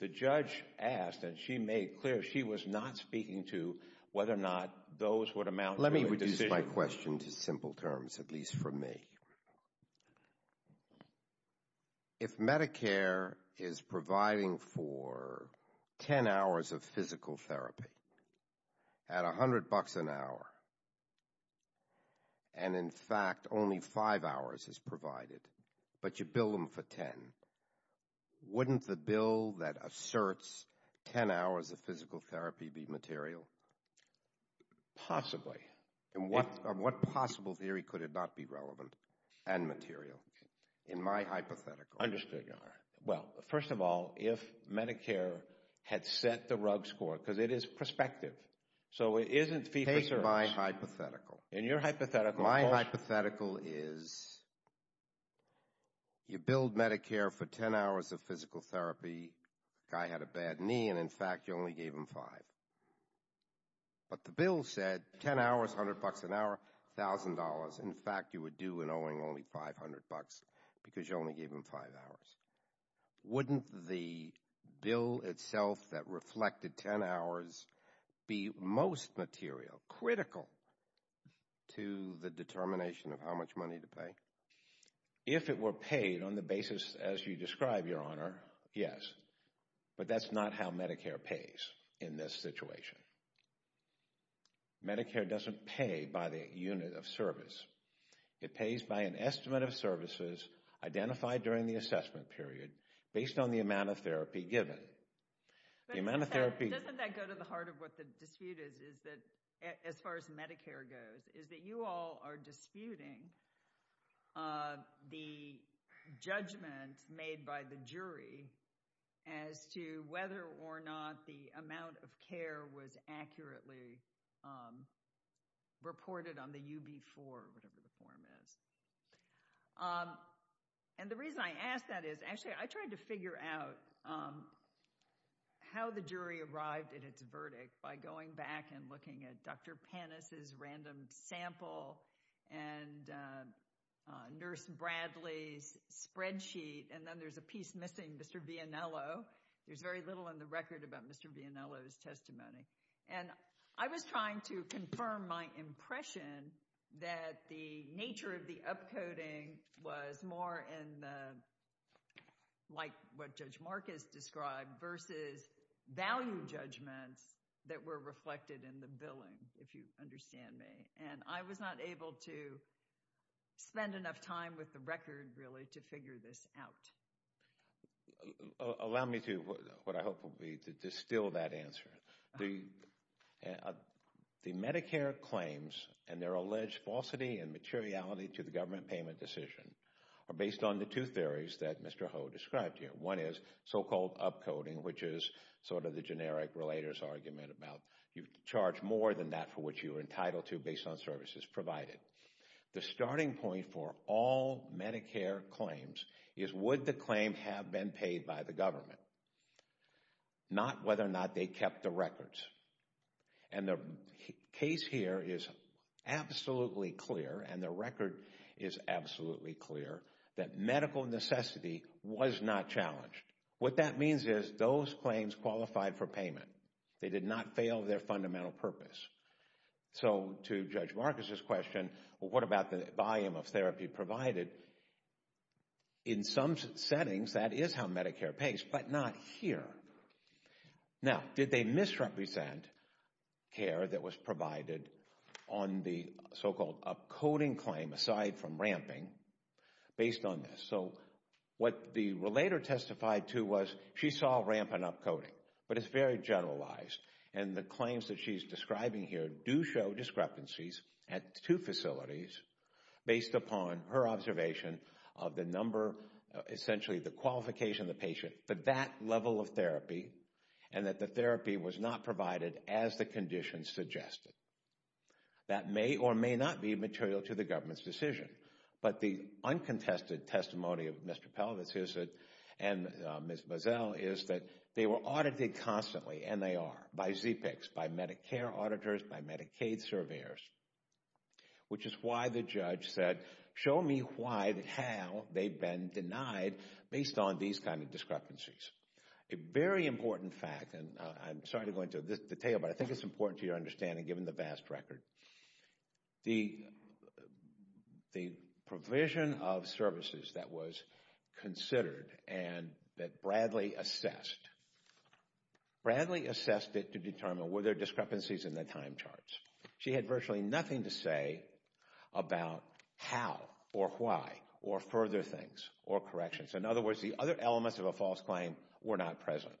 the judge asked, and she made clear she was not speaking to whether or not those would amount— Let me reduce my question to simple terms, at least for me. If Medicare is providing for 10 hours of physical therapy at $100 an hour, and in fact only five hours is provided, but you bill them for 10, wouldn't the bill that asserts 10 hours of physical therapy be material? Possibly. And what possible theory could it not be relevant and material? In my hypothetical. Understood, Your Honor. Well, first of all, if Medicare had set the RUG score, because it is prospective, so it isn't fee-for-service. Take my hypothetical. In your hypothetical, of course— My hypothetical is you bill Medicare for 10 hours of physical therapy, the guy had a bad knee, and in fact you only gave him five. But the bill said 10 hours, $100 an hour, $1,000. In fact, you were due in owing only $500 because you only gave him five hours. Wouldn't the bill itself that reflected 10 hours be most material, critical to the determination of how much money to pay? If it were paid on the basis as you describe, Your Honor, yes. But that's not how Medicare pays in this situation. Medicare doesn't pay by the unit of service. It pays by an estimate of services identified during the assessment period based on the amount of therapy given. The amount of therapy— Doesn't that go to the heart of what the dispute is, as far as Medicare goes, as to whether or not the amount of care was accurately reported on the UB4, whatever the form is. And the reason I ask that is, actually, I tried to figure out how the jury arrived at its verdict by going back and looking at Dr. Panis' random sample and Nurse Bradley's spreadsheet, and then there's a piece missing, Mr. Vianello. There's very little in the record about Mr. Vianello's testimony. And I was trying to confirm my impression that the nature of the upcoding was more in the, like what Judge Marcus described, versus value judgments that were reflected in the billing, if you understand me. And I was not able to spend enough time with the record, really, to figure this out. Allow me to, what I hope will be, to distill that answer. The Medicare claims and their alleged falsity and materiality to the government payment decision are based on the two theories that Mr. Ho described here. One is so-called upcoding, which is sort of the generic relator's argument about you charge more than that for what you are entitled to based on services provided. The starting point for all Medicare claims is would the claim have been paid by the government, not whether or not they kept the records. And the case here is absolutely clear, and the record is absolutely clear, that medical necessity was not challenged. What that means is those claims qualified for payment. They did not fail their fundamental purpose. So to Judge Marcus's question, well, what about the volume of therapy provided? In some settings, that is how Medicare pays, but not here. Now, did they misrepresent care that was provided on the so-called upcoding claim, aside from ramping, based on this? So what the relator testified to was she saw ramp and upcoding, but it's very generalized. And the claims that she's describing here do show discrepancies at two facilities, based upon her observation of the number, essentially the qualification of the patient, but that level of therapy, and that the therapy was not provided as the condition suggested. That may or may not be material to the government's decision. But the uncontested testimony of Mr. Pelvis and Ms. Boesel is that they were audited constantly, and they are, by ZPICs, by Medicare auditors, by Medicaid surveyors, which is why the judge said, show me why, how they've been denied, based on these kind of discrepancies. A very important fact, and I'm sorry to go into this detail, but I think it's important to your understanding, given the vast record. The provision of services that was considered, and that Bradley assessed, Bradley assessed it to determine, were there discrepancies in the time charts? She had virtually nothing to say about how, or why, or further things, or corrections. In other words, the other elements of a false claim were not present.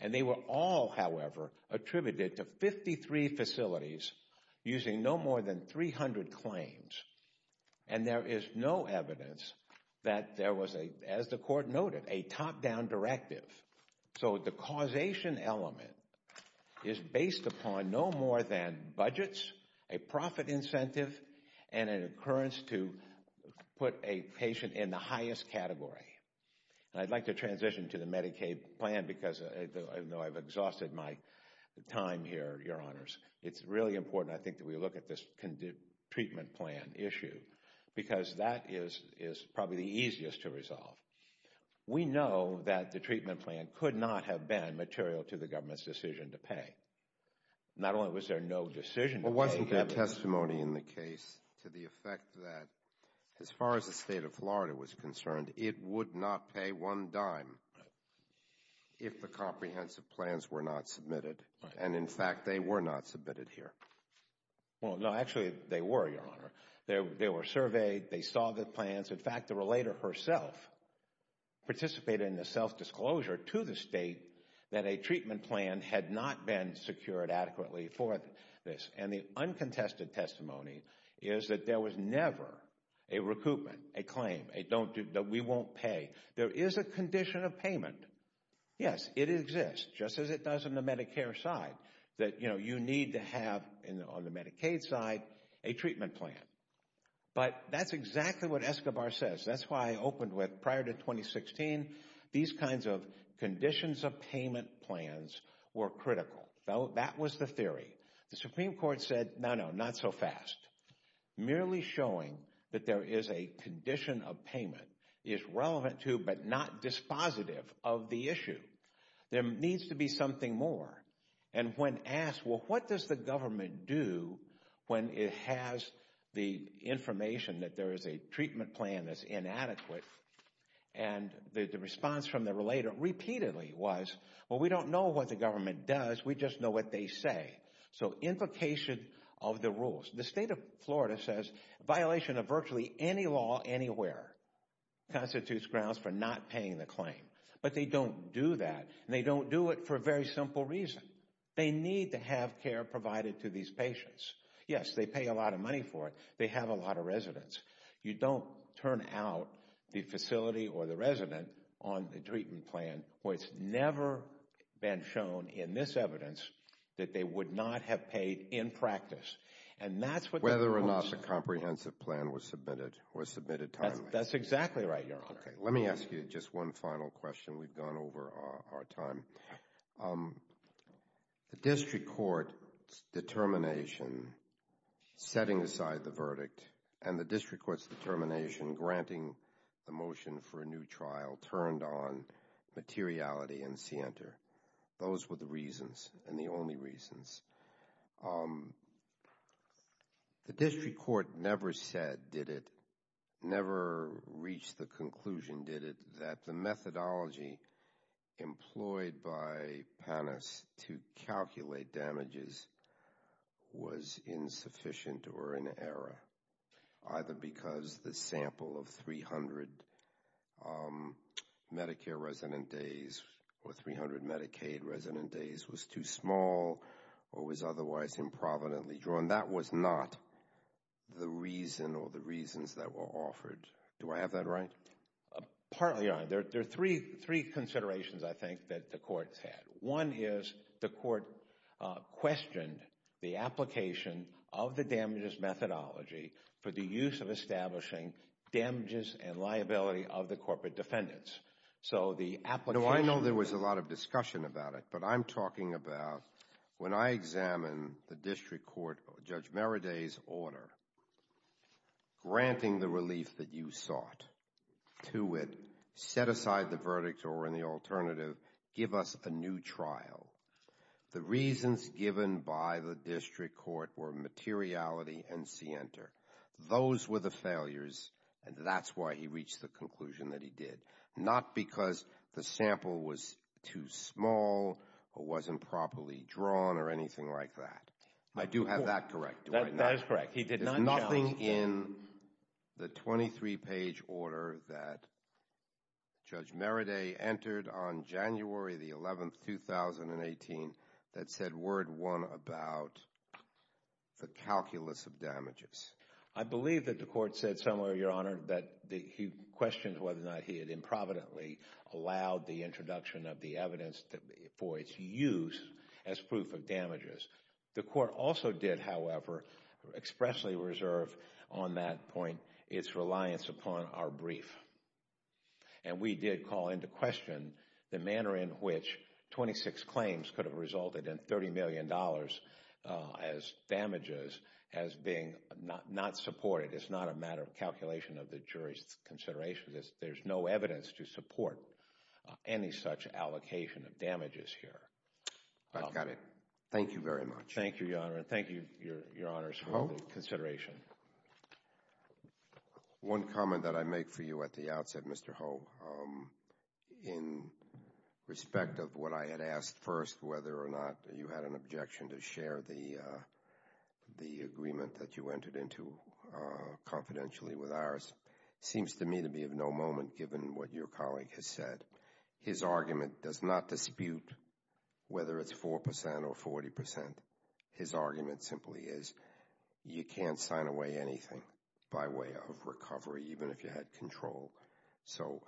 And they were all, however, attributed to 53 facilities, using no more than 300 claims. And there is no evidence that there was a, as the court noted, a top-down directive. So the causation element is based upon no more than budgets, a profit incentive, and an occurrence to put a patient in the highest category. And I'd like to transition to the Medicaid plan, because I know I've exhausted my time here, Your Honors. It's really important, I think, that we look at this treatment plan. Because that is probably the easiest to resolve. We know that the treatment plan could not have been material to the government's decision to pay. Not only was there no decision to pay. But wasn't there testimony in the case to the effect that, as far as the state of Florida was concerned, it would not pay one dime if the comprehensive plans were not submitted? And in fact, they were not submitted here. Well, no, actually, they were, Your Honor. They were surveyed. They saw the plans. In fact, the relator herself participated in the self-disclosure to the state that a treatment plan had not been secured adequately for this. And the uncontested testimony is that there was never a recoupment, a claim, that we won't pay. There is a condition of payment. Yes, it exists, just as it does on the Medicare side, that you need to have, on the Medicaid side, a treatment plan. But that's exactly what Escobar says. That's why I opened with, prior to 2016, these kinds of conditions of payment plans were critical. That was the theory. The Supreme Court said, no, no, not so fast. Merely showing that there is a condition of payment is relevant to, but not dispositive of, the issue. There needs to be something more. And when asked, well, what does the government do when it has the information that there is a treatment plan that's inadequate? And the response from the relator repeatedly was, well, we don't know what the government does. We just know what they say. So implication of the rules. The state of Florida says, violation of virtually any law anywhere constitutes grounds for not paying the claim. But they don't do that. And they don't do it for a very simple reason. They need to have care provided to these patients. Yes, they pay a lot of money for it. They have a lot of residents. You don't turn out the facility or the resident on the treatment plan where it's never been shown, in this evidence, that they would not have paid in practice. Whether or not the comprehensive plan was submitted was submitted timely. That's exactly right, Your Honor. Let me ask you just one final question. We've gone over our time. The district court's determination setting aside the verdict and the district court's determination granting the motion for a new trial turned on materiality and scienter. Those were the reasons and the only reasons. The district court never said, did it, never reached the conclusion, did it, that the methodology employed by PANAS to calculate damages was insufficient or in error, either because the sample of 300 Medicare resident days or 300 Medicaid resident days was too small or was otherwise improvidently drawn. That was not the reason or the reasons that were offered. Do I have that right? Partly, Your Honor. There are three considerations, I think, that the courts had. One is the court questioned the application of the damages methodology for the use of establishing damages and liability of the corporate defendants. So the application... I know there was a lot of discussion about it, but I'm talking about when I examine the district court, Judge Meredith's order, granting the relief that you sought to it, set aside the verdict or in the alternative, give us a new trial. The reasons given by the district court were materiality and scienter. Those were the failures and that's why he reached the conclusion that he did. Not because the sample was too small or wasn't properly drawn or anything like that. I do have that correct. That is correct. He did not... Nothing in the 23-page order that Judge Meredith entered on January the 11th, 2018, that said word one about the calculus of damages. I believe that the court said somewhere, Your Honor, that he questioned whether or not he had improvidently allowed the introduction of the evidence for its use as proof of damages. The court also did, however, expressly reserve on that point its reliance upon our brief. And we did call into question the manner in which 26 claims could have resulted in $30 million as damages as being not supported. It's not a matter of calculation of the jury's consideration. There's no evidence to support any such allocation of damages here. I've got it. Thank you very much. Thank you, Your Honor. Thank you, Your Honors, for the consideration. One comment that I make for you at the outset, Mr. Ho. In respect of what I had asked first, whether or not you had an objection to share the confidentiality with ours, seems to me to be of no moment given what your colleague has said. His argument does not dispute whether it's 4% or 40%. His argument simply is you can't sign away anything by way of recovery, even if you had control. So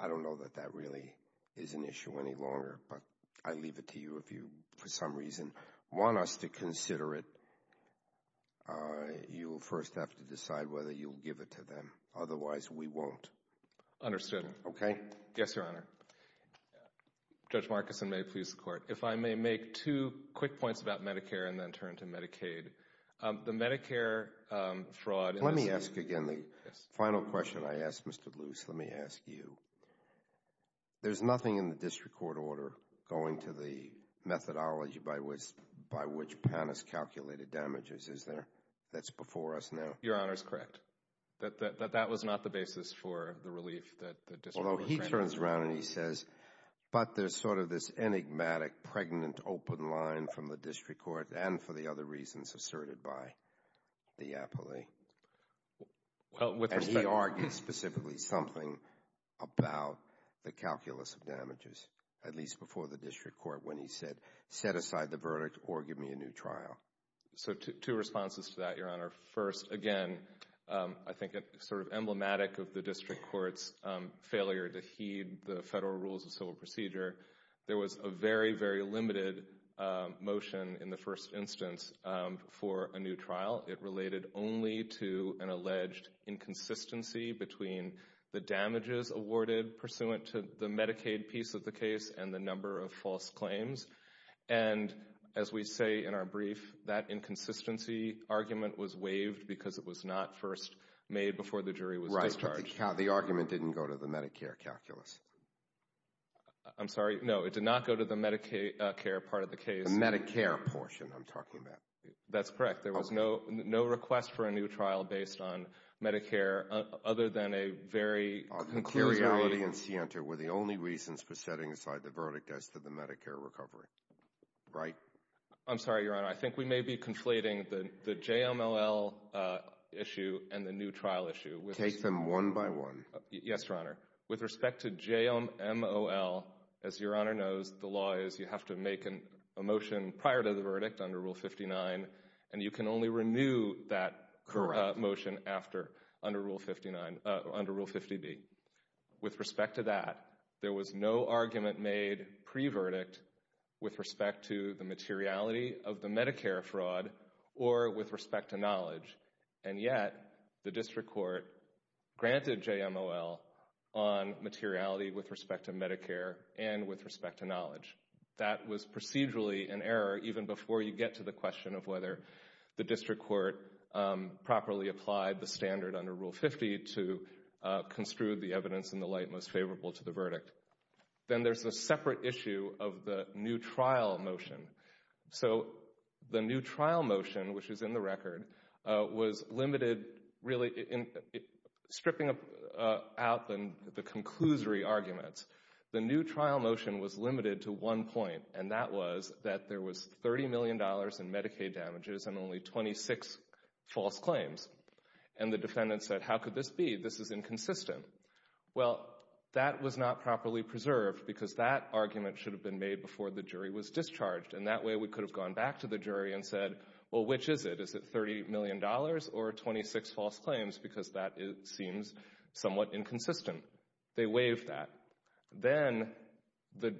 I don't know that that really is an issue any longer. But I leave it to you, if you, for some reason, want us to consider it, you will first have to decide whether you'll give it to them. Otherwise, we won't. Understood. Okay. Yes, Your Honor. Judge Markison, may I please the Court? If I may make two quick points about Medicare and then turn to Medicaid. The Medicare fraud— Let me ask again the final question I asked, Mr. Luce. Let me ask you. There's nothing in the district court order going to the methodology by which PAN has calculated damages, is there, that's before us now? Your Honor is correct. That was not the basis for the relief that the district court— Although he turns around and he says, but there's sort of this enigmatic pregnant open line from the district court and for the other reasons asserted by the appellee. And he argues specifically something about the calculus of damages, at least before the district court when he said, set aside the verdict or give me a new trial. So two responses to that, Your Honor. First, again, I think it's sort of emblematic of the district court's failure to heed the federal rules of civil procedure. There was a very, very limited motion in the first instance for a new trial. It related only to an alleged inconsistency between the damages awarded pursuant to the Medicaid piece of the case and the number of false claims. And as we say in our brief, that inconsistency argument was waived because it was not first made before the jury was discharged. The argument didn't go to the Medicare calculus. I'm sorry? No, it did not go to the Medicare part of the case. The Medicare portion I'm talking about. That's correct. There was no request for a new trial based on Medicare other than a very concurrent— Our concurrentity and scienter were the only reasons for setting aside the verdict as to the Medicare recovery. Right. I'm sorry, Your Honor. I think we may be conflating the JMLL issue and the new trial issue. Take them one by one. Yes, Your Honor. With respect to JMLL, as Your Honor knows, the law is you have to make a motion prior to the verdict under Rule 59, and you can only renew that motion after, under Rule 59—under Rule 50B. With respect to that, there was no argument made pre-verdict with respect to the materiality of the Medicare fraud or with respect to knowledge, and yet the district court granted JMLL on materiality with respect to Medicare and with respect to knowledge. That was procedurally an error even before you get to the question of whether the district court properly applied the standard under Rule 50 to construe the evidence in the light most favorable to the verdict. Then there's a separate issue of the new trial motion. So the new trial motion, which is in the record, was limited really in stripping out the conclusory arguments. The new trial motion was limited to one point, and that was that there was $30 million in false claims, and the defendant said, how could this be? This is inconsistent. Well, that was not properly preserved because that argument should have been made before the jury was discharged, and that way we could have gone back to the jury and said, well, which is it? Is it $30 million or 26 false claims? Because that seems somewhat inconsistent. They waived that. Then the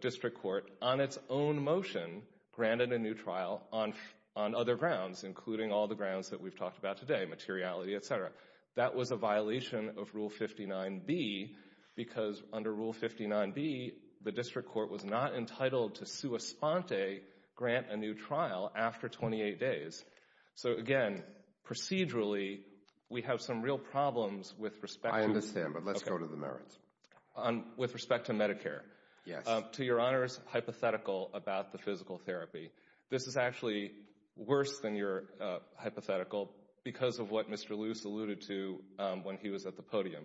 district court, on its own motion, granted a new trial on other grounds, including all the grounds that we've talked about today, materiality, et cetera. That was a violation of Rule 59B because under Rule 59B, the district court was not entitled to sua sponte, grant a new trial, after 28 days. So again, procedurally, we have some real problems with respect to— I understand, but let's go to the merits. With respect to Medicare, to Your Honor's hypothetical about the physical therapy, this is actually worse than your hypothetical because of what Mr. Luce alluded to when he was at the podium.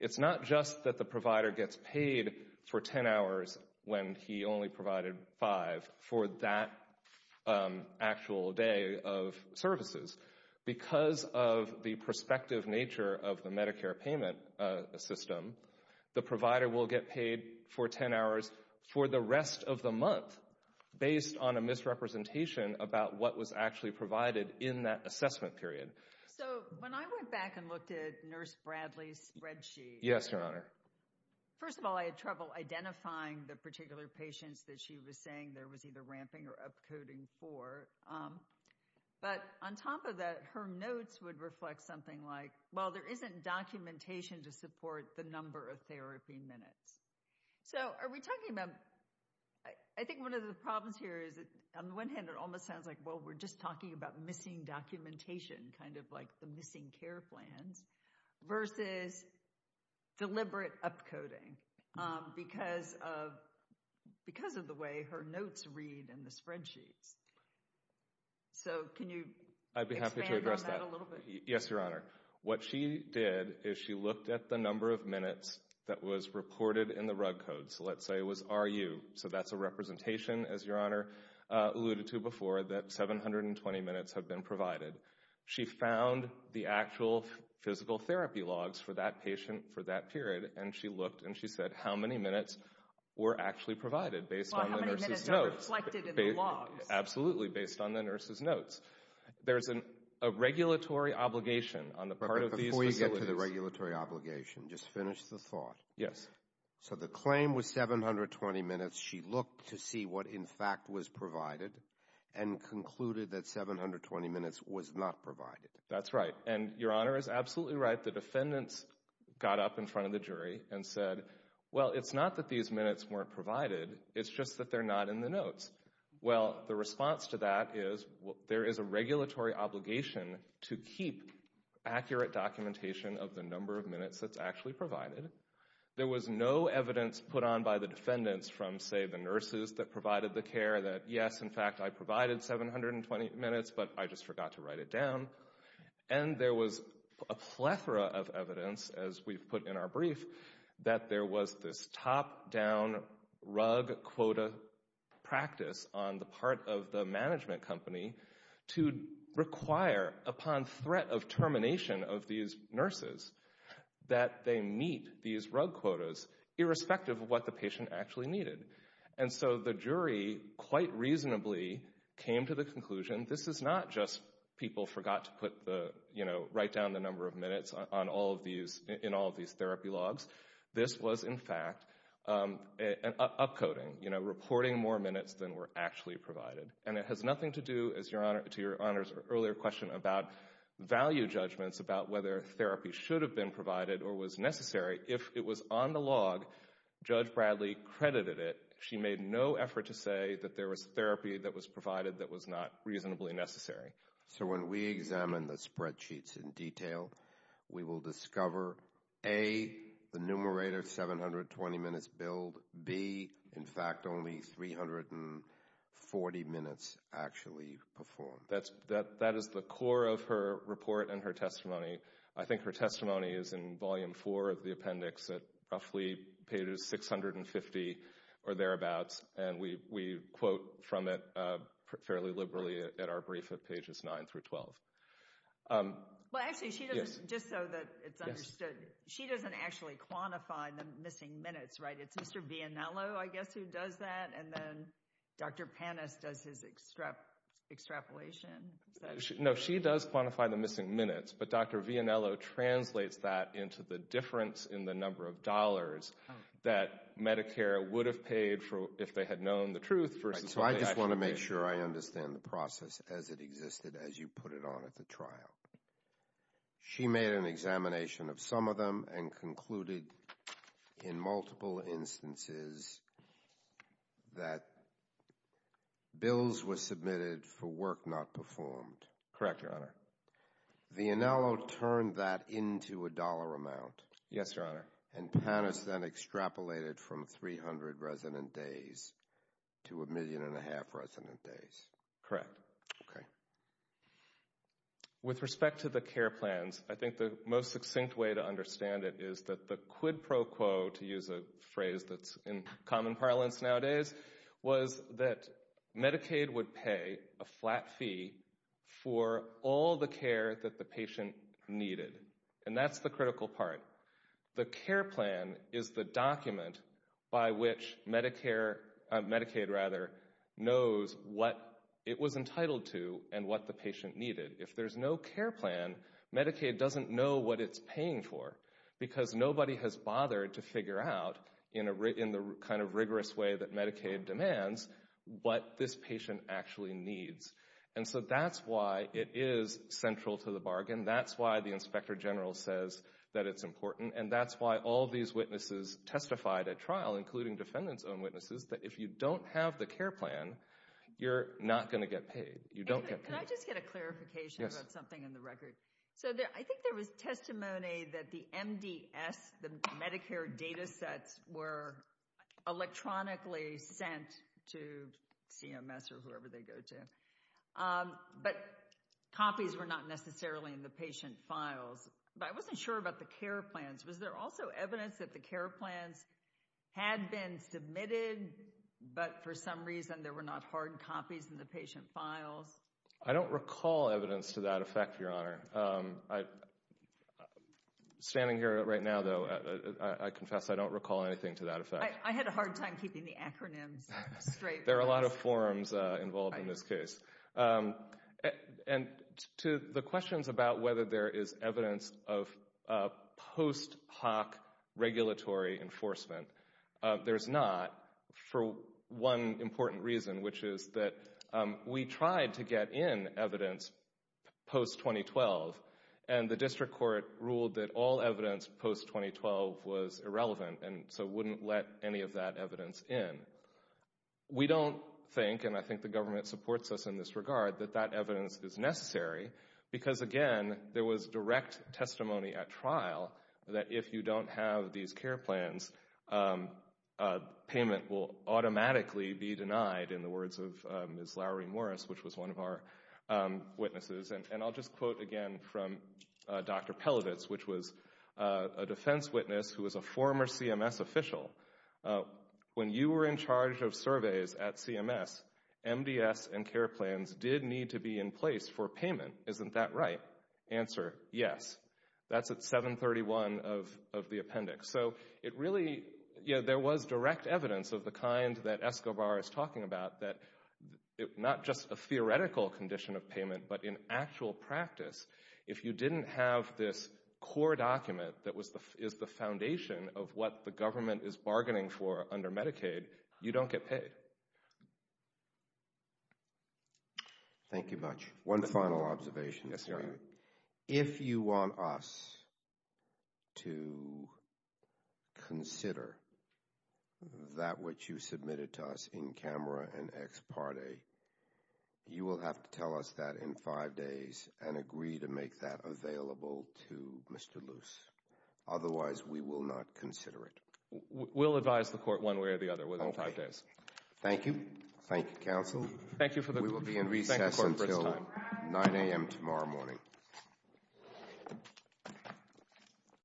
It's not just that the provider gets paid for 10 hours when he only provided five for that actual day of services. Because of the prospective nature of the Medicare payment system, the provider will get paid for 10 hours for the rest of the month based on a misrepresentation about what was actually provided in that assessment period. So when I went back and looked at Nurse Bradley's spreadsheet— Yes, Your Honor. First of all, I had trouble identifying the particular patients that she was saying there was either ramping or upcoding for. But on top of that, her notes would reflect something like, well, there isn't documentation to support the number of therapy minutes. So are we talking about—I think one of the problems here is that on the one hand, it almost sounds like, well, we're just talking about missing documentation, kind of like the missing care plans, versus deliberate upcoding because of the way her notes read in the spreadsheets. So can you expand on that a little bit? I'd be happy to address that. Yes, Your Honor. What she did is she looked at the number of minutes that was reported in the RUG code. So let's say it was RU. So that's a representation, as Your Honor alluded to before, that 720 minutes have been provided. She found the actual physical therapy logs for that patient for that period, and she looked and she said how many minutes were actually provided based on the nurse's notes. Well, how many minutes are reflected in the logs? Absolutely, based on the nurse's notes. There's a regulatory obligation on the part of these facilities— Before you get to the regulatory obligation, just finish the thought. Yes. So the claim was 720 minutes. She looked to see what, in fact, was provided and concluded that 720 minutes was not provided. That's right. And Your Honor is absolutely right. The defendants got up in front of the jury and said, well, it's not that these minutes weren't provided. It's just that they're not in the notes. Well, the response to that is there is a regulatory obligation to keep accurate documentation of the number of minutes that's actually provided. There was no evidence put on by the defendants from, say, the nurses that provided the care that, yes, in fact, I provided 720 minutes, but I just forgot to write it down. And there was a plethora of evidence, as we've put in our brief, that there was this top down rug quota practice on the part of the management company to require, upon threat of termination of these nurses, that they meet these rug quotas, irrespective of what the patient actually needed. And so the jury, quite reasonably, came to the conclusion this is not just people forgot to write down the number of minutes in all of these therapy logs. This was, in fact, an upcoding, you know, reporting more minutes than were actually provided. And it has nothing to do, to your Honor's earlier question about value judgments about whether therapy should have been provided or was necessary. If it was on the log, Judge Bradley credited it. She made no effort to say that there was therapy that was provided that was not reasonably necessary. So when we examine the spreadsheets in detail, we will discover, A, the numerator 720 minutes billed, B, in fact, only 340 minutes actually performed. That is the core of her report and her testimony. I think her testimony is in volume four of the appendix at roughly page 650 or thereabouts. And we quote from it fairly liberally at our brief at pages 9 through 12. Well, actually, just so that it's understood, she doesn't actually quantify the missing minutes, right? It's Mr. Vianello, I guess, who does that. And then Dr. Panis does his extrapolation. No, she does quantify the missing minutes. But Dr. Vianello translates that into the difference in the number of dollars that Medicare would have paid for if they had known the truth versus what they actually paid. So I just want to make sure I understand the process as it existed as you put it on at the trial. She made an examination of some of them and concluded in multiple instances that bills were submitted for work not performed. Correct, Your Honor. Vianello turned that into a dollar amount. Yes, Your Honor. And Panis then extrapolated from 300 resident days to a million and a half resident days. Correct. Okay. With respect to the care plans, I think the most succinct way to understand it is that the quid pro quo, to use a phrase that's in common parlance nowadays, was that Medicaid would pay a flat fee for all the care that the patient needed. And that's the critical part. The care plan is the document by which Medicaid knows what it was entitled to and what the patient needed. If there's no care plan, Medicaid doesn't know what it's paying for because nobody has bothered to figure out in the kind of rigorous way that Medicaid demands what this patient actually needs. And so that's why it is central to the bargain. That's why the Inspector General says that it's important. And that's why all these witnesses testified at trial, including defendant's own witnesses, that if you don't have the care plan, you're not going to get paid. You don't get paid. Can I just get a clarification about something in the record? So I think there was testimony that the MDS, the Medicare data sets, were electronically sent to CMS or whoever they go to. But copies were not necessarily in the patient files. But I wasn't sure about the care plans. Was there also evidence that the care plans had been submitted, but for some reason there were not hard copies in the patient files? I don't recall evidence to that effect, Your Honor. Standing here right now, though, I confess I don't recall anything to that effect. I had a hard time keeping the acronyms straight. There are a lot of forms involved in this case. And to the questions about whether there is evidence of post hoc regulatory enforcement, there's not for one important reason, which is that we tried to get in evidence post-2012. And the district court ruled that all evidence post-2012 was irrelevant and so wouldn't let any of that evidence in. We don't think, and I think the government supports us in this regard, that that evidence is necessary because, again, there was direct testimony at trial that if you don't have these care plans, payment will automatically be denied in the words of Ms. Lowry Morris, which was one of our witnesses. And I'll just quote again from Dr. Pelovitz, which was a defense witness who was a former CMS official. When you were in charge of surveys at CMS, MDS and care plans did need to be in place for payment. Isn't that right? Answer, yes. That's at 731 of the appendix. So it really, you know, there was direct evidence of the kind that Escobar is talking about that not just a theoretical condition of payment, but in actual practice, if you didn't have this core document that is the foundation of what the government is bargaining for under Medicaid, you don't get paid. Thank you much. One final observation. If you want us to consider that which you submitted to us in camera and ex parte, you will have to tell us that in five days and agree to make that available to Mr. Luce. Otherwise, we will not consider it. We'll advise the court one way or the other within five days. Thank you. Thank you, counsel. Thank you for the court's time. We will be in recess until 9 a.m. tomorrow morning.